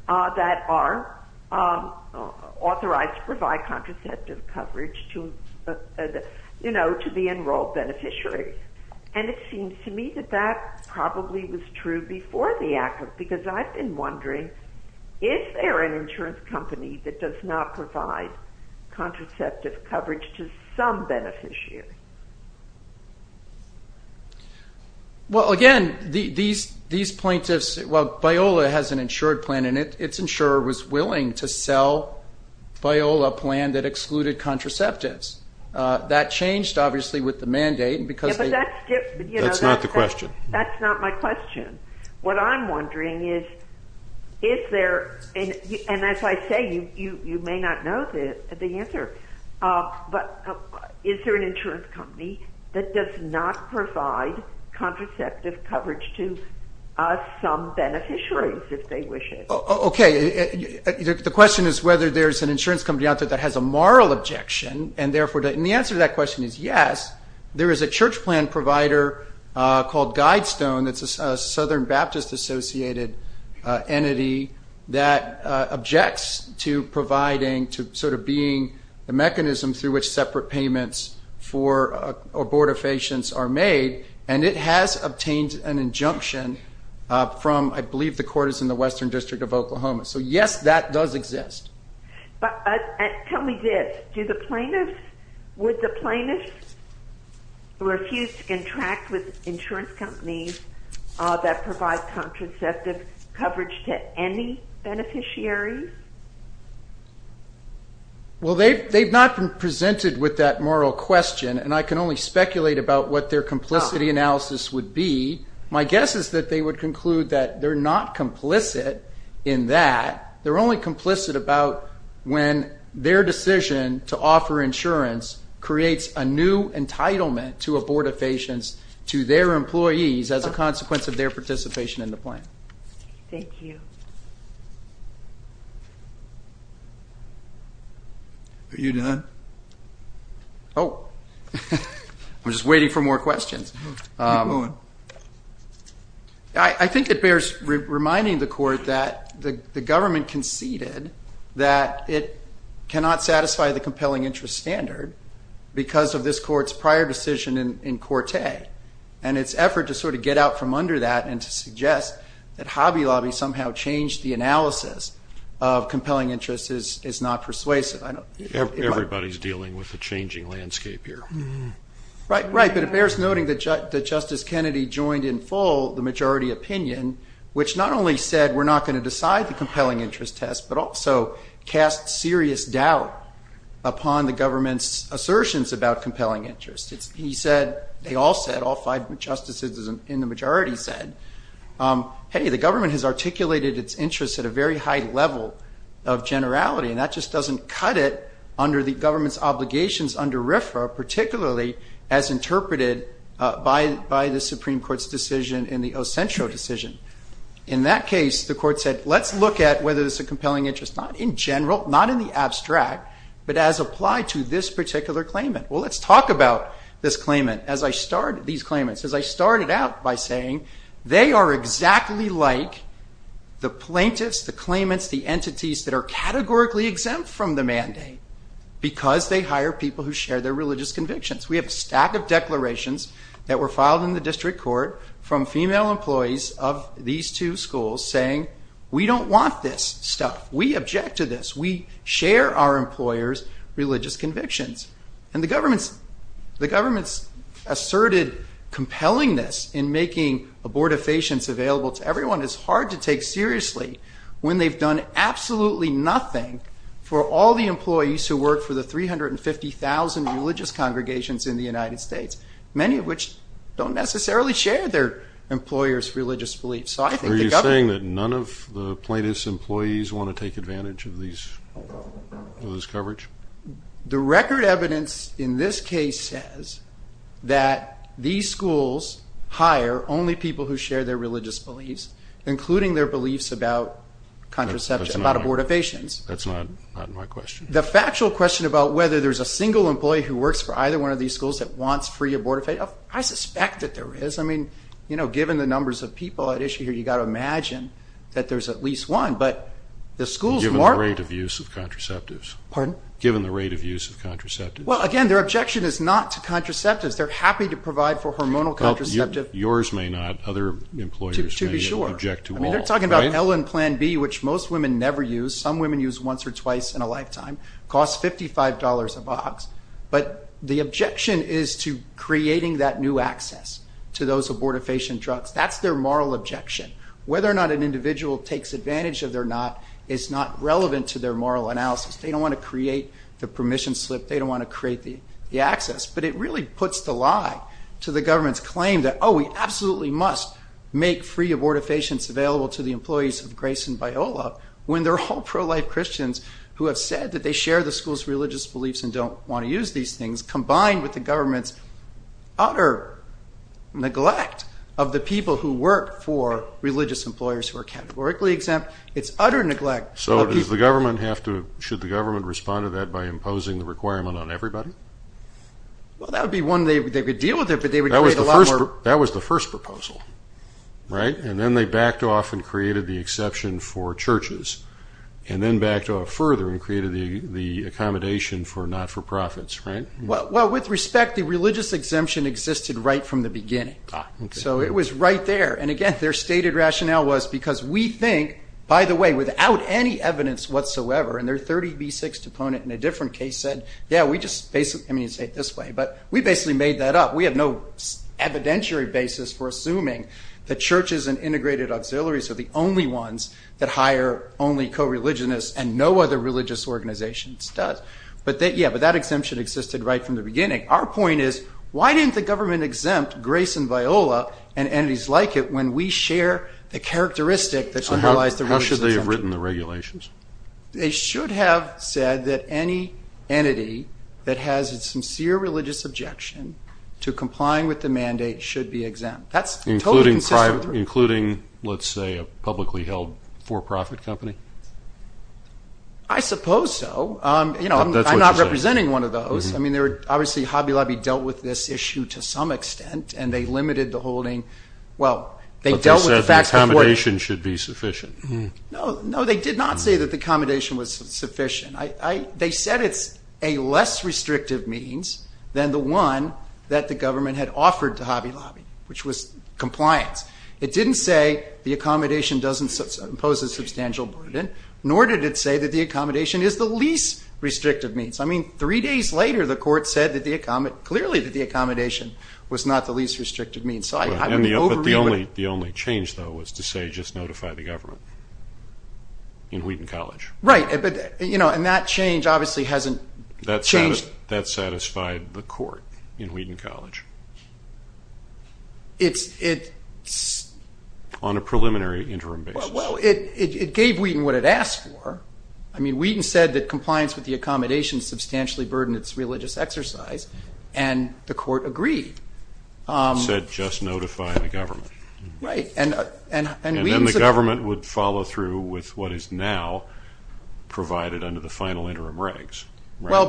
that are authorized to provide contraceptive coverage to the enrolled beneficiaries. And it seems to me that that probably was true before the Act was because I've been wondering, is there an insurance company that does not provide contraceptive coverage to some beneficiaries? Well, again, these plaintiffs, well, Biola has an insured plan, and its insurer was willing to sell Biola a plan that excluded contraceptives. That changed, obviously, with the mandate. That's not the question. That's not my question. What I'm wondering is, and as I say, you may not know the answer, but is there an insurance company that does not provide contraceptive coverage to some beneficiaries if they wish it? Okay. The question is whether there's an insurance company out there that has a moral objection, and therefore the answer to that question is yes. There is a church plan provider called Guidestone. It's a Southern Baptist-associated entity that objects to providing, to sort of being the mechanism through which separate payments for abortifacients are made, and it has obtained an injunction from, I believe the court is in the Western District of Oklahoma. So, yes, that does exist. Tell me this. Do the plaintiffs, would the plaintiffs refuse to contract with insurance companies that provide contraceptive coverage to any beneficiaries? Well, they've not been presented with that moral question, and I can only speculate about what their complicity analysis would be. My guess is that they would conclude that they're not complicit in that. They're only complicit about when their decision to offer insurance creates a new entitlement to abortifacients to their employees as a consequence of their participation in the plan. Thank you. Are you done? Oh, I was just waiting for more questions. I think it bears reminding the court that the government conceded that it cannot satisfy the compelling interest standard because of this court's prior decision in Quartet, and its effort to sort of get out from under that and suggest that Hobby Lobby somehow changed the analysis of compelling interest is not persuasive. Everybody's dealing with a changing landscape here. Right, but it bears noting that Justice Kennedy joined in full the majority opinion, which not only said we're not going to decide the compelling interest test, but also cast serious doubt upon the government's assertions about compelling interest. He said, they all said, all five justices in the majority said, hey, the government has articulated its interests at a very high level of generality, and that just doesn't cut it under the government's obligations under RFRA, particularly as interpreted by the Supreme Court's decision in the Ossentro decision. In that case, the court said, let's look at whether it's a compelling interest, not in general, not in the abstract, but as applied to this particular claimant. Well, let's talk about this claimant. As I started out by saying, they are exactly like the plaintiffs, the claimants, the entities that are categorically exempt from the mandate because they hire people who share their religious convictions. We have a stack of declarations that were filed in the district court from female employees of these two schools saying, we don't want this stuff. We object to this. We share our employers' religious convictions. And the government's asserted compellingness in making abortifacients available to everyone is hard to take seriously when they've done absolutely nothing for all the employees who work for the 350,000 religious congregations in the United States, many of which don't necessarily share their employers' religious beliefs. Are you saying that none of the plaintiffs' employees want to take advantage of this coverage? The record evidence in this case says that these schools hire only people who share their religious beliefs, including their beliefs about abortifacients. That's not my question. The factual question about whether there's a single employee who works for either one of these schools that wants free abortifacients, I suspect that there is. I mean, given the numbers of people at issue here, you've got to imagine that there's at least one. Given the rate of use of contraceptives? Well, again, their objection is not to contraceptives. They're happy to provide for hormonal contraceptives. But yours may not. Other employers may object to all. To be sure. I mean, they're talking about plan B, which most women never use. Some women use once or twice in a lifetime. It costs $55 a box. But the objection is to creating that new access to those abortifacient drugs. That's their moral objection. Whether or not an individual takes advantage of it or not is not relevant to their moral analysis. They don't want to create the permission slip. They don't want to create the access. But it really puts the lie to the government's claim that, oh, we absolutely must make free abortifacients available to the employees of Grace and Biola when they're all pro-life Christians who have said that they share the school's religious beliefs and don't want to use these things, combined with the government's utter neglect of the people who work for religious employers who are categorically exempt. It's utter neglect. So should the government respond to that by imposing the requirement on everybody? Well, that would be one way they could deal with it. That was the first proposal, right? And then they backed off and created the exception for churches, and then backed off further and created the accommodation for not-for-profits, right? Well, with respect, the religious exemption existed right from the beginning. So it was right there. And, again, their stated rationale was because we think, by the way, without any evidence whatsoever, and their 30B6 deponent in a different case said, yeah, we just basically made that up. We have no evidentiary basis for assuming that churches and integrated auxiliaries are the only ones that hire only co-religionists and no other religious organizations does. But, yeah, that exemption existed right from the beginning. Our point is, why didn't the government exempt Grace and Viola and entities like it when we share a characteristic that symbolized the religious exemption? How should they have written the regulations? They should have said that any entity that has a sincere religious objection to complying with the mandate should be exempt. Including, let's say, a publicly held for-profit company? I suppose so. I'm not representing one of those. I mean, obviously Hobby Lobby dealt with this issue to some extent, and they limited the holding. Well, they dealt with the fact that- But they said the accommodation should be sufficient. No, they did not say that the accommodation was sufficient. They said it's a less restrictive means than the one that the government had offered to Hobby Lobby, which was compliance. It didn't say the accommodation doesn't impose a substantial burden, nor did it say that the accommodation is the least restrictive means. I mean, three days later, the court said clearly that the accommodation was not the least restrictive means. But the only change, though, was to say just notify the government in Wheaton College. Right. And that change obviously hasn't changed- That satisfied the court in Wheaton College on a preliminary interim basis. Well, it gave Wheaton what it asked for. I mean, Wheaton said that compliance with the accommodation substantially burdened its religious exercise, and the court agreed. It said just notify the government. Right. And then the government would follow through with what is now provided under the final interim regs. Well,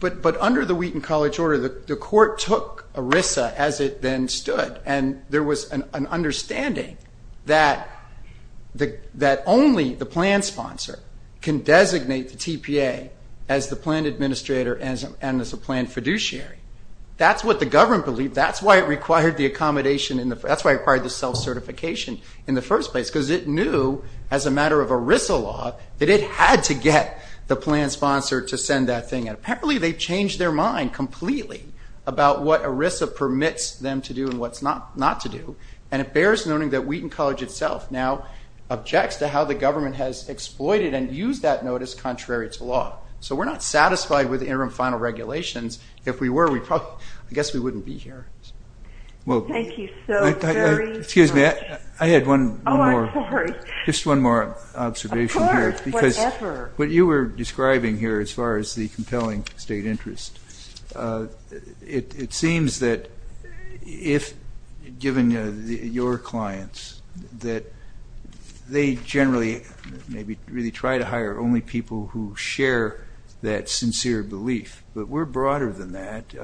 but under the Wheaton College order, the court took ERISA as it then stood, and there was an understanding that only the plan sponsor can designate the TPA as the plan administrator and as the plan fiduciary. That's what the government believed. That's why it required the self-certification in the first place, because it knew as a matter of ERISA law that it had to get the plan sponsor to send that thing. Apparently they changed their mind completely about what ERISA permits them to do and what not to do, and it bears noting that Wheaton College itself now objects to how the government has exploited and used that notice contrary to law. So we're not satisfied with interim final regulations. If we were, I guess we wouldn't be here. Thank you so very much. Excuse me. I had one more- Oh, of course. Just one more observation here. Of course. Whatever. What you were describing here as far as the compelling state interest, it seems that if given your clients that they generally maybe really try to hire only people who share that sincere belief, but we're broader than that.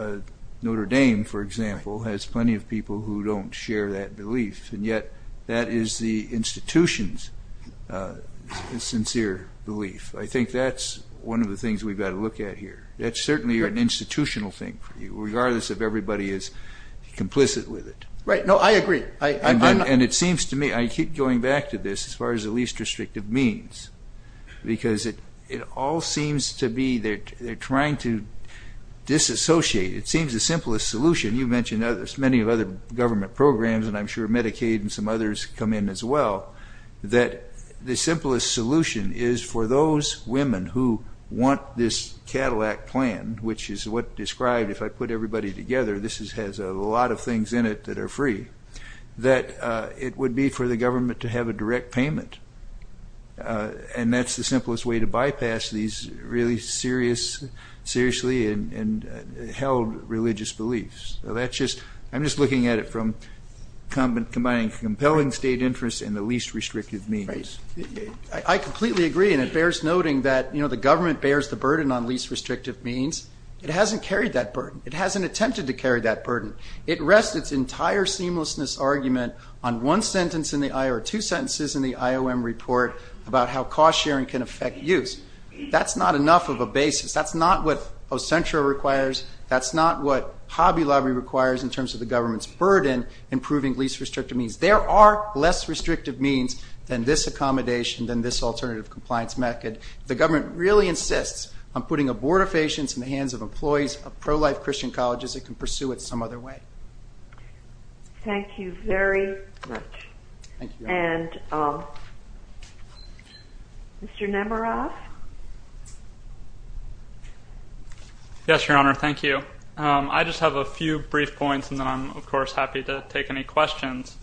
Notre Dame, for example, has plenty of people who don't share that belief, and yet that is the institution's sincere belief. I think that's one of the things we've got to look at here. That's certainly an institutional thing, regardless if everybody is complicit with it. Right. No, I agree. It seems to me, I keep going back to this as far as the least restrictive means, because it all seems to be they're trying to disassociate. It seems the simplest solution, you mentioned many of other government programs, and I'm sure Medicaid and some others come in as well, that the simplest solution is for those women who want this Cadillac plan, which is what described if I put everybody together, this has a lot of things in it that are free, that it would be for the government to have a direct payment, and that's the simplest way to bypass these really seriously and held religious beliefs. I'm just looking at it from combining compelling state interest and the least restrictive means. I completely agree, and it bears noting that the government bears the burden on least restrictive means. It hasn't carried that burden. It hasn't attempted to carry that burden. It rests its entire seamlessness argument on one sentence in the IOM, or two sentences in the IOM report about how cost sharing can affect use. That's not enough of a basis. That's not what Ocentra requires. That's not what Hobby Lobby requires in terms of the government's burden in proving least restrictive means. There are less restrictive means than this accommodation, than this alternative compliance method. The government really insists on putting a board of patients in the hands of employees of pro-life Christian colleges that can pursue it some other way. Thank you very much. And Mr. Nemiroff? Yes, Your Honor, thank you. I just have a few brief points, and then I'm, of course, happy to take any questions.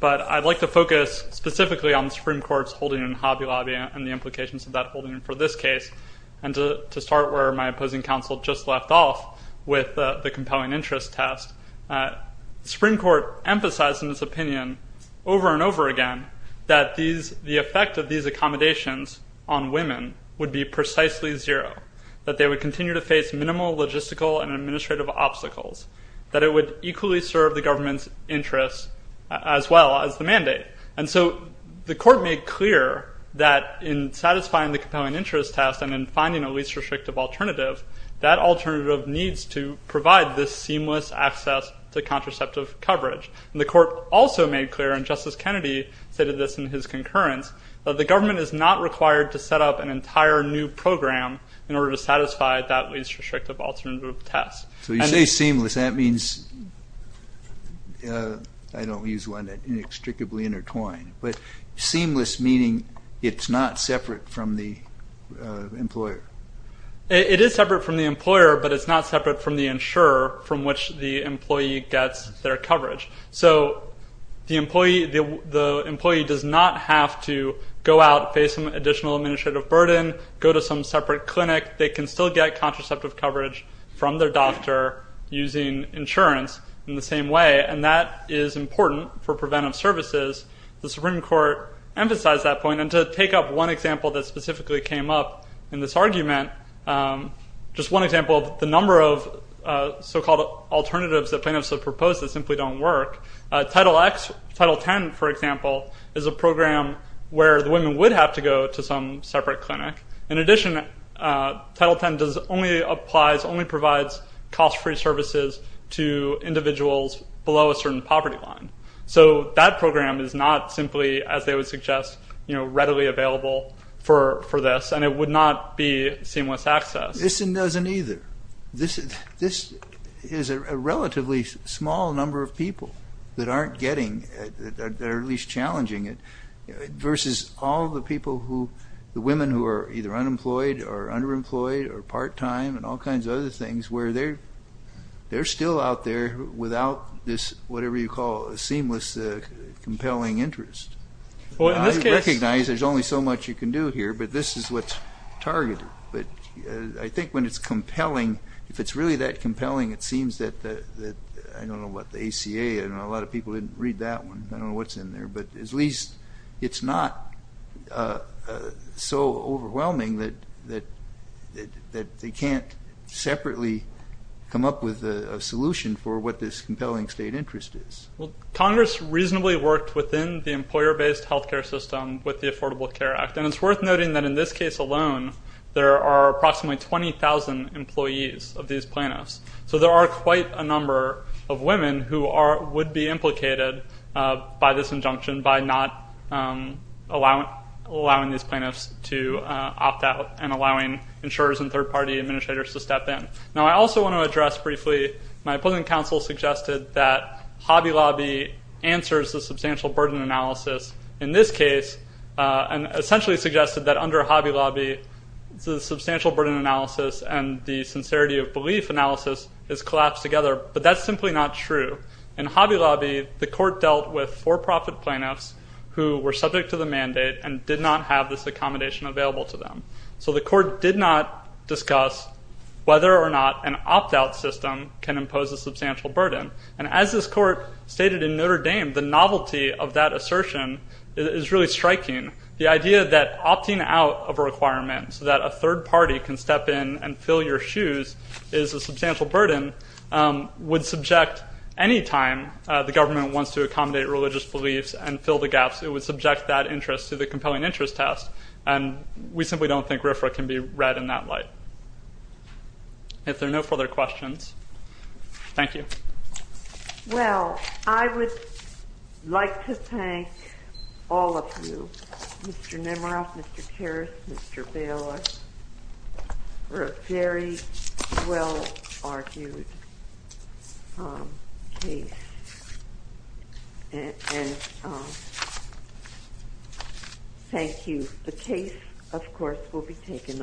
But I'd like to focus specifically on the Supreme Court's holding in Hobby Lobby and the implications of that holding for this case. And to start where my opposing counsel just left off with the compelling interest task, the Supreme Court emphasized in its opinion over and over again that the effect of these accommodations on women would be precisely zero, that they would continue to face minimal logistical and administrative obstacles, that it would equally serve the government's interests as well as the mandate. And so the court made clear that in satisfying the compelling interest task and in finding a least restrictive alternative, that alternative needs to provide this seamless access to contraceptive coverage. And the court also made clear, and Justice Kennedy stated this in his concurrence, that the government is not required to set up an entire new program in order to satisfy that least restrictive alternative task. So you say seamless. That means, I don't use the word inextricably intertwined, but seamless meaning it's not separate from the employer. It is separate from the employer, but it's not separate from the insurer from which the employee gets their coverage. So the employee does not have to go out, face some additional administrative burden, go to some separate clinic. They can still get contraceptive coverage from their doctor using insurance in the same way, and that is important for preventive services. The Supreme Court emphasized that point. And to take up one example that specifically came up in this argument, just one example, the number of so-called alternatives that plaintiffs have proposed simply don't work. Title X, Title X, for example, is a program where the women would have to go to some separate clinic. In addition, Title X only provides cost-free services to individuals below a certain poverty line. So that program is not simply, as they would suggest, readily available for this, and it would not be seamless access. This doesn't either. This is a relatively small number of people that aren't getting, or at least challenging it, versus all the people who, the women who are either unemployed or underemployed or part-time and all kinds of other things where they're still out there without this, whatever you call, a seamless compelling interest. I recognize there's only so much you can do here, but this is what's targeted. I think when it's compelling, if it's really that compelling, it seems that, I don't know about the ACA, a lot of people didn't read that one, I don't know what's in there, but at least it's not so overwhelming that they can't separately come up with a solution for what this compelling state interest is. Well, Congress reasonably worked within the employer-based health care system with the Affordable Care Act, and it's worth noting that in this case alone, there are approximately 20,000 employees of these plaintiffs. So there are quite a number of women who would be implicated by this injunction by not allowing these plaintiffs to opt out and allowing insurers and third-party administrators to step in. Now, I also want to address briefly, my opposing counsel suggested that Hobby Lobby answers the substantial burden analysis. In this case, essentially suggested that under Hobby Lobby, the substantial burden analysis and the sincerity of belief analysis is collapsed together, but that's simply not true. In Hobby Lobby, the court dealt with for-profit plaintiffs who were subject to the mandate and did not have this accommodation available to them. So the court did not discuss whether or not an opt-out system can impose a substantial burden. And as this court stated in Notre Dame, the novelty of that assertion is really striking. The idea that opting out of a requirement so that a third party can step in and fill your shoes is a substantial burden would subject any time the government wants to accommodate religious beliefs and fill the gaps, it would subject that interest to the compelling interest test, and we simply don't think RFRA can be read in that light. If there are no further questions, thank you. Well, I would like to thank all of you, Mr. Nemeroff, Mr. Karras, Mr. Bailiff, for a very well-argued case, and thank you. The case, of course, will be taken under review.